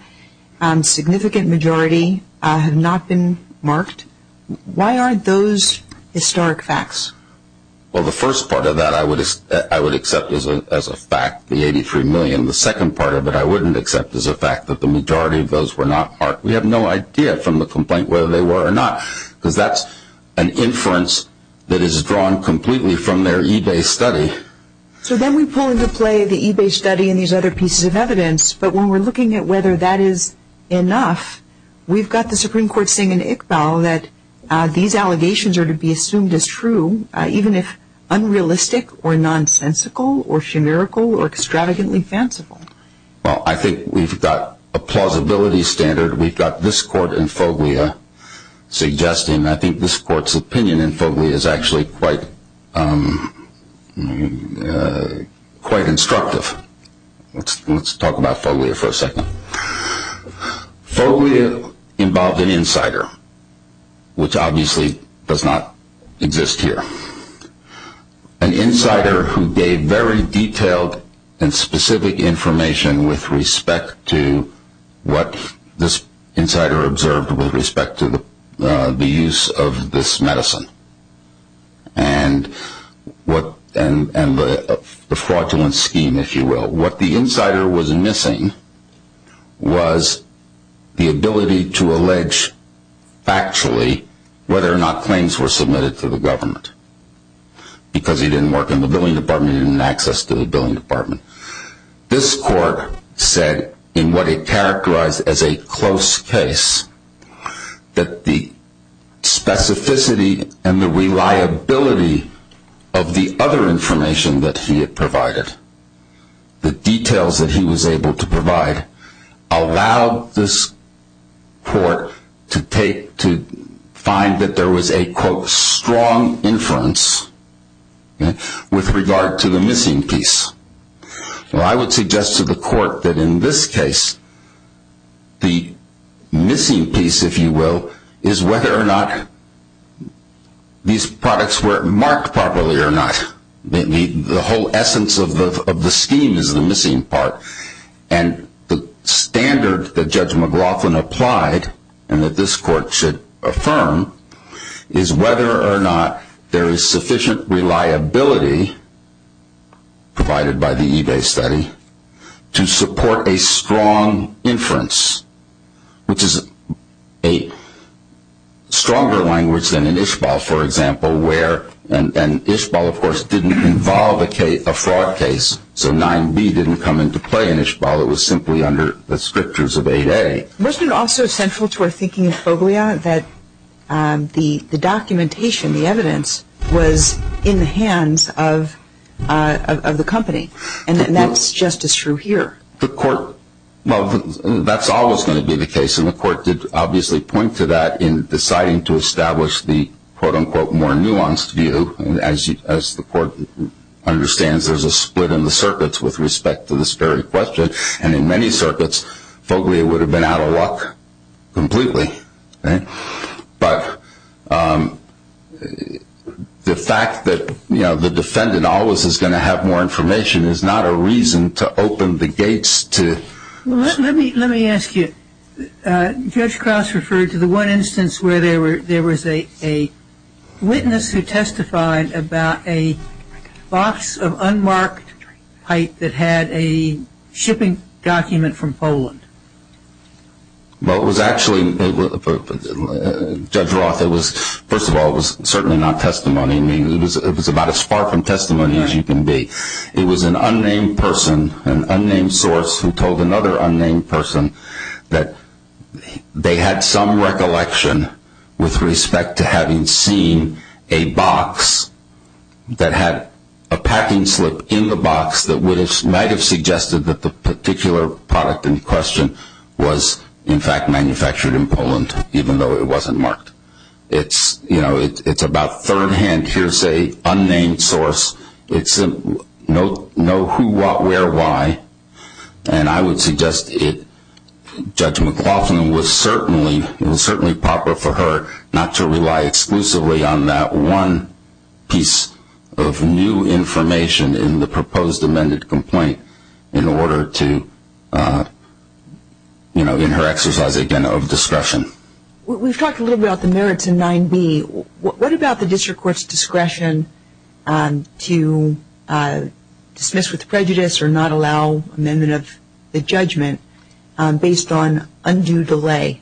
Significant majority have not been marked. Why aren't those historic facts? Well, the first part of that I would accept as a fact, the 83 million. And the second part of it I wouldn't accept as a fact that the majority of those were not marked. We have no idea from the complaint whether they were or not. Because that's an inference that is drawn completely from their eBay study. So then we pull into play the eBay study and these other pieces of evidence. But when we're looking at whether that is enough, we've got the Supreme Court saying in Iqbal that these allegations are to be assumed as true, even if unrealistic or nonsensical or shenerical or extravagantly fanciful. Well, I think we've got a plausibility standard. We've got this court and FOGLIA suggesting. I think this court's opinion in FOGLIA is actually quite instructive. Let's talk about FOGLIA for a second. FOGLIA involved an insider, which obviously does not exist here. An insider who gave very detailed and specific information with respect to what this insider observed with respect to the use of this medicine and the fraudulent scheme, if you will. What the insider was missing was the ability to allege factually whether or not claims were submitted to the government. Because he didn't work in the billing department, he didn't have access to the billing department. This court said in what it characterized as a close case that the specificity and the reliability of the other information that he had provided, the details that he was able to provide, allowed this court to find that there was a, quote, strong inference with regard to the missing piece. I would suggest to the court that in this case, the missing piece, if you will, is whether or not these products were marked properly or not. The whole essence of the scheme is the missing part. And the standard that Judge McLaughlin applied and that this court should affirm is whether or not there is sufficient reliability provided by the eBay study to support a strong inference, which is a stronger language than in Ishbal, for example, where, and Ishbal, of course, didn't involve a fraud case. So 9B didn't come into play in Ishbal. It was simply under the strictures of 8A. Wasn't it also central to our thinking of Foglia that the documentation, the evidence, was in the hands of the company? And that's just as true here. The court, well, that's always going to be the case. And the court did obviously point to that in deciding to establish the, quote, unquote, more nuanced view. As the court understands, there's a split in the circuits with respect to this very question. And in many circuits, Foglia would have been out of luck completely. But the fact that the defendant always is going to have more information is not a reason to open the gates to- Well, let me ask you. Judge Krauss referred to the one instance where there was a witness who testified about a box of unmarked pipe that had a shipping document from Poland. Well, it was actually, Judge Roth, it was, first of all, it was certainly not testimony. I mean, it was about as far from testimony as you can be. It was an unnamed person, an unnamed source, who told another unnamed person that they had some recollection with respect to having seen a box that had a packing slip in the box that might have suggested that the particular product in question was, in fact, manufactured in Poland, even though it wasn't marked. It's about third-hand hearsay, unnamed source. No who, what, where, why. And I would suggest it, Judge McLaughlin, was certainly, it was certainly proper for her not to rely exclusively on that one piece of new information in the proposed amended complaint in order to, you know, in her exercise, again, of discretion. We've talked a little bit about the merits in 9b. What about the district court's discretion to dismiss with prejudice or not allow amendment of the judgment based on undue delay?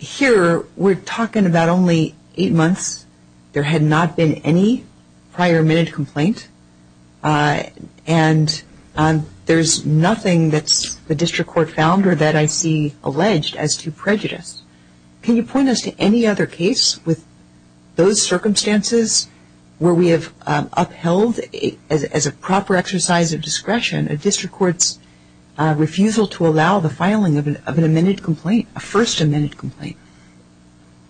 Here, we're talking about only eight months. There had not been any prior amended complaint. And there's nothing that the district court found or that I see alleged as to prejudice. Can you point us to any other case with those circumstances where we have upheld as a proper exercise of discretion a district court's refusal to allow the filing of an amended complaint, a first amended complaint?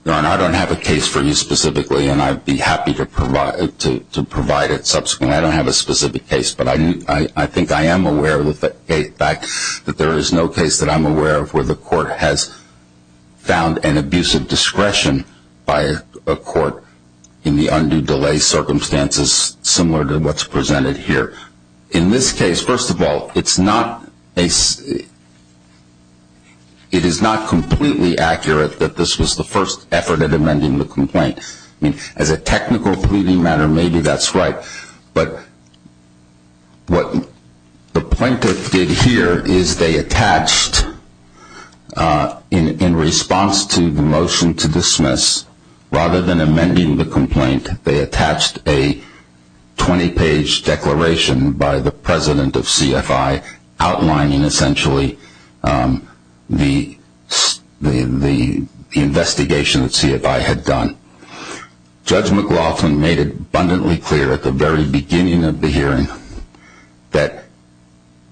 Your Honor, I don't have a case for you specifically, and I'd be happy to provide it subsequently. I don't have a specific case, but I think I am aware that there is no case that I'm found an abusive discretion by a court in the undue delay circumstances similar to what's presented here. In this case, first of all, it's not a it is not completely accurate that this was the first effort at amending the complaint. I mean, as a technical pleading matter, maybe that's right. But what the plaintiff did here is they attached in response to the motion to dismiss, rather than amending the complaint, they attached a 20 page declaration by the president of CFI outlining essentially the investigation that CFI had done. Judge McLaughlin made it abundantly clear at the very beginning of the hearing that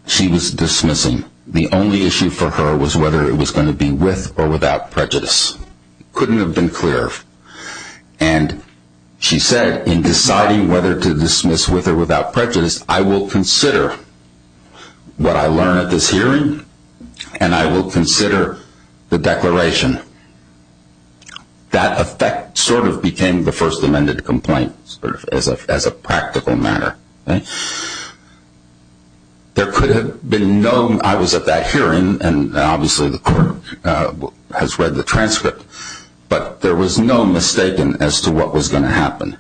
she was dismissing. The only issue for her was whether it was going to be with or without prejudice. It couldn't have been clearer. And she said in deciding whether to dismiss with or without prejudice, I will consider what I learned at this hearing, and I will consider the declaration. That effect sort of became the first amended complaint as a practical matter. There could have been no, I was at that hearing, and obviously the court has read the transcript, but there was no mistaking as to what was going to happen.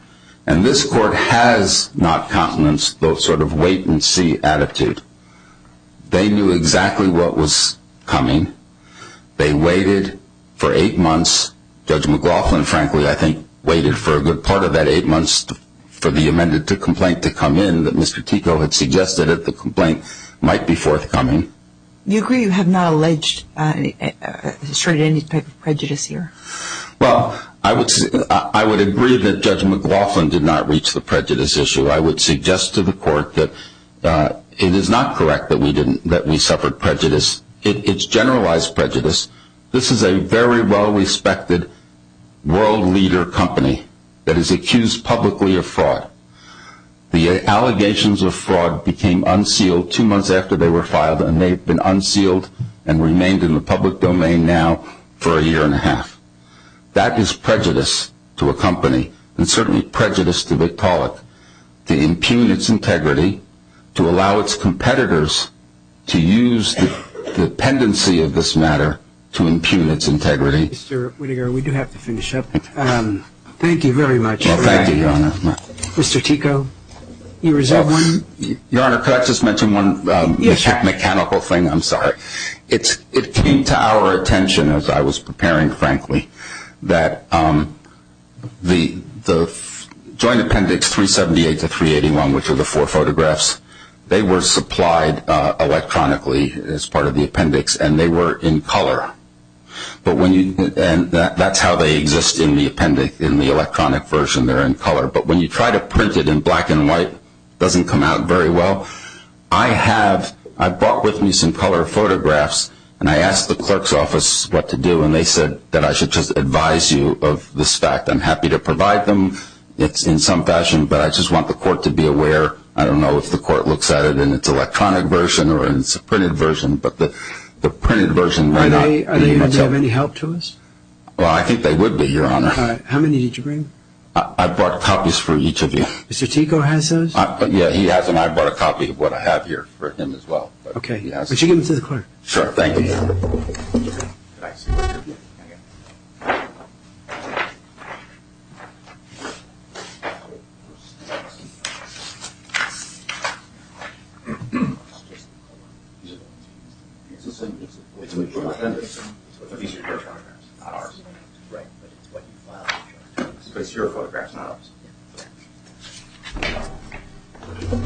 And this court has not countenanced those sort of wait and see attitude. They knew exactly what was coming. They waited for eight months. Judge McLaughlin, frankly, I think, waited for a good part of that eight months for the amended complaint to come in that Mr. Tico had suggested that the complaint might be forthcoming. You agree you have not alleged or assured any type of prejudice here? Well, I would agree that Judge McLaughlin did not reach the prejudice issue. I would suggest to the court that it is not correct that we suffered prejudice. It's generalized prejudice. This is a very well-respected world leader company that is accused publicly of fraud. The allegations of fraud became unsealed two months after they were filed, and they've been unsealed and remained in the public domain now for a year and a half. That is prejudice to a company and certainly prejudice to Victaulic to impugn its integrity, to allow its competitors to use the dependency of this matter to impugn its integrity. Mr. Whittinger, we do have to finish up. Thank you very much. Well, thank you, Your Honor. Mr. Tico, you reserve one? Your Honor, could I just mention one mechanical thing? I'm sorry. It came to our attention as I was preparing, frankly, that the Joint Appendix 378 to 381, which are the four photographs, they were supplied electronically as part of the appendix, and they were in color. That's how they exist in the appendix, in the electronic version. They're in color. But when you try to print it in black and white, it doesn't come out very well. I brought with me some color photographs, and I asked the clerk's office what to do, and they said that I should just advise you of this fact. I'm happy to provide them in some fashion, but I just want the court to be aware. I don't know if the court looks at it in its electronic version or in its printed version, but the printed version might not be much help. Are they going to have any help to us? Well, I think they would be, Your Honor. All right. How many did you bring? I brought copies for each of you. Mr. Tico has those? Yeah, he has them. I brought a copy of what I have here for him as well. Okay. Would you give them to the clerk? Sure. Thank you.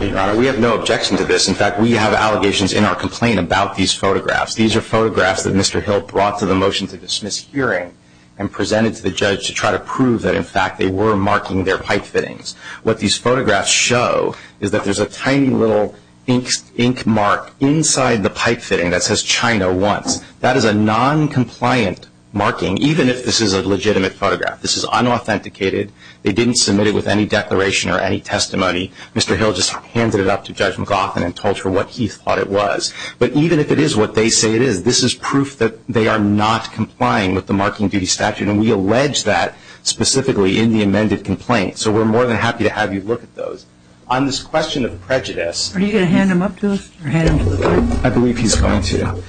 Your Honor, we have no objection to this. In fact, we have allegations in our complaint about these photographs. These are photographs that Mr. Hill brought to the motion to dismiss hearing and presented to the judge to try to prove that, in fact, they were marking their pipe fittings. What these photographs show is that there's a tiny little ink mark inside the pipe fitting that says China once. That is a noncompliant marking, even if this is a legitimate photograph. This is unauthenticated. They didn't submit it with any declaration or any testimony. Mr. Hill just handed it up to Judge McLaughlin and told her what he thought it was. But even if it is what they say it is, this is proof that they are not complying with the marking duty statute, and we allege that specifically in the amended complaint. So we're more than happy to have you look at those. On this question of prejudice... Are you going to hand them up to us or hand them to the clerk? I believe he's going to.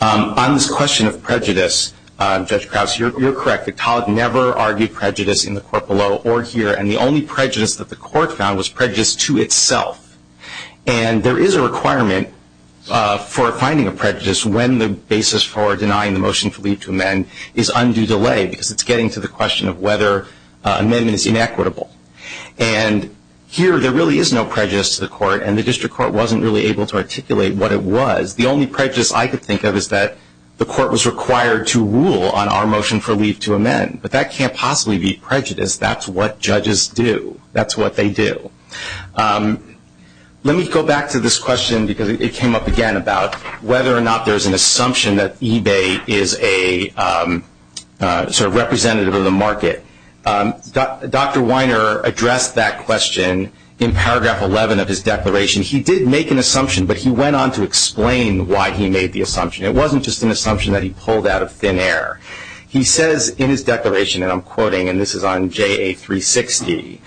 On this question of prejudice, Judge Krause, you're correct. The tolerant never argued prejudice in the court below or here, and the only prejudice that the court found was prejudice to itself. And there is a requirement for finding a prejudice when the basis for denying the motion to leave to amend is undue delay because it's getting to the question of whether amendment is inequitable. And here, there really is no prejudice to the court, and the district court wasn't really able to articulate what it was. The only prejudice I could think of is that the court was required to rule on our motion for leave to amend. But that can't possibly be prejudice. That's what judges do. That's what they do. Let me go back to this question because it came up again about whether or not there's an assumption that eBay is a sort of representative of the market. Dr. Weiner addressed that question in paragraph 11 of his declaration. He did make an assumption, but he went on to explain why he made the assumption. It wasn't just an assumption that he pulled out of thin air. He says in his declaration, and I'm quoting, and this is on JA360,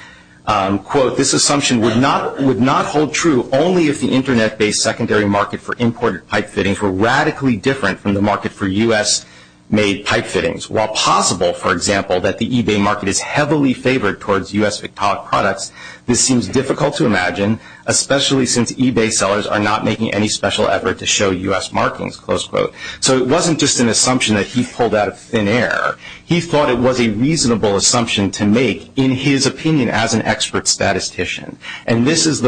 quote, this assumption would not hold true only if the internet-based secondary market for imported pipe fittings were radically different from the market for US-made pipe fittings. While possible, for example, that the eBay market is heavily favored towards US-made products, this seems difficult to imagine, especially since eBay sellers are not making any special effort to show US markings, close quote. So it wasn't just an assumption that he pulled out of thin air. He thought it was a reasonable assumption to make, in his opinion, as an expert statistician. And this is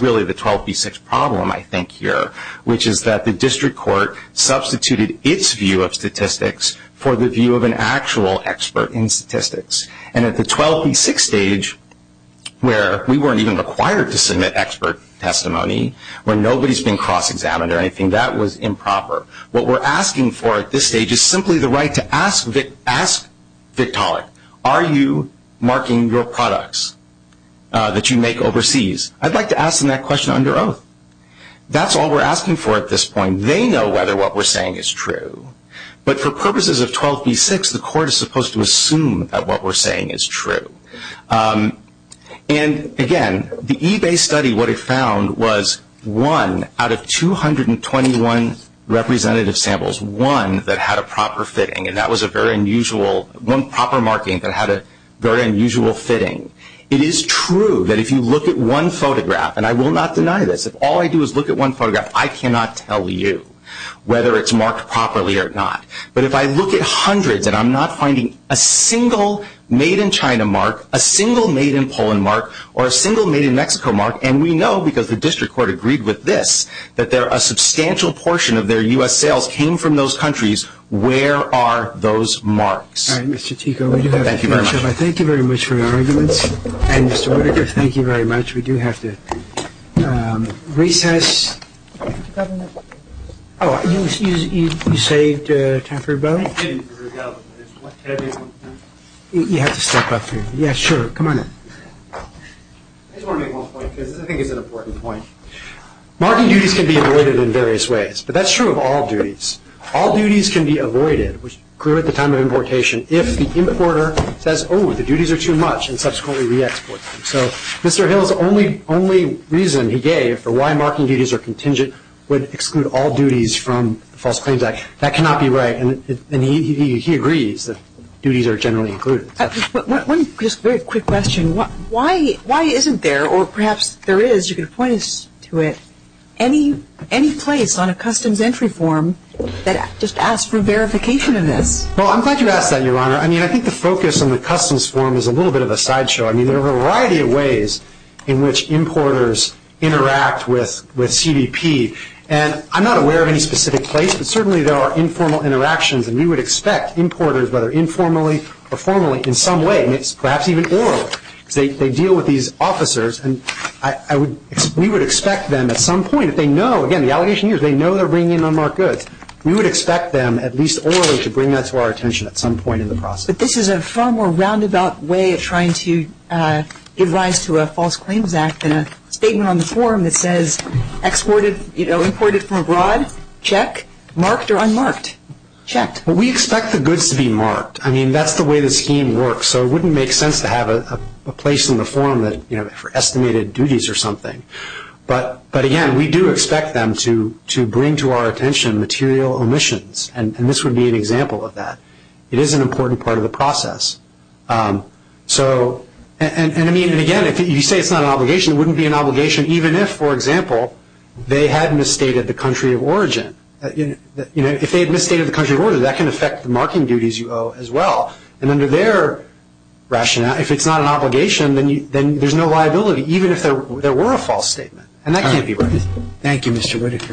really the 12B6 problem, I think, here, which is that the district court substituted its view of statistics for the view of an actual expert in statistics. And at the 12B6 stage, where we weren't even required to submit expert testimony, where nobody's been cross-examined or anything, that was improper. What we're asking for at this stage is simply the right to ask Victaulic, are you marking your products that you make overseas? I'd like to ask them that question under oath. That's all we're asking for at this point. They know whether what we're saying is true. But for purposes of 12B6, the court is supposed to assume that what we're saying is true. And again, the eBay study, what it found was one out of 221 representative samples, one that had a proper fitting. And that was a very unusual, one proper marking that had a very unusual fitting. It is true that if you look at one photograph, and I will not deny this, all I do is look at one photograph. I cannot tell you whether it's marked properly or not. But if I look at hundreds and I'm not finding a single made-in-China mark, a single made-in-Poland mark, or a single made-in-Mexico mark, and we know because the district court agreed with this, that a substantial portion of their U.S. sales came from those countries, where are those marks? All right, Mr. Tico, we do have a few more, but thank you very much for your arguments. And Mr. Whitaker, thank you very much. We do have to recess. Oh, you saved Taffer Bow? You have to step up here. Yeah, sure, come on in. I just want to make one point, because I think it's an important point. Marking duties can be avoided in various ways, but that's true of all duties. All duties can be avoided, which occur at the time of importation, if the importer says, oh, the duties are too much, and subsequently re-exports them. So Mr. Hill's only reason he gave for why marking duties are contingent would exclude all duties from the False Claims Act. That cannot be right, and he agrees that duties are generally included. One very quick question. Why isn't there, or perhaps there is, you can point us to it, any place on a customs entry form that just asks for verification of this? Well, I'm glad you asked that, Your Honor. I mean, I think the focus on the customs form is a little bit of a sideshow. I mean, there are a variety of ways in which importers interact with CDP, and I'm not aware of any specific place, but certainly there are informal interactions, and we would expect importers, whether informally or formally, in some way, and perhaps even orally, because they deal with these officers, and we would expect them at some point, if they know, again, the allegation here is they know they're bringing in unmarked goods, we would expect them, at least orally, to bring that to our attention at some point in the process. But this is a far more roundabout way of trying to give rise to a False Claims Act than a statement on the form that says exported, you know, imported from abroad, check, marked or unmarked, checked. Well, we expect the goods to be marked. I mean, that's the way the scheme works, so it wouldn't make sense to have a place in the form that, you know, for estimated duties or something. But again, we do expect them to bring to our attention material omissions, and this would be an example of that. It is an important part of the process. So, and I mean, and again, if you say it's not an obligation, it wouldn't be an obligation even if, for example, they had misstated the country of origin. You know, if they had misstated the country of origin, that can affect the marking duties you owe as well. And under their rationale, if it's not an obligation, then there's no liability, even if there were a false statement. And that can't be right. Thank you, Mr. Whitaker.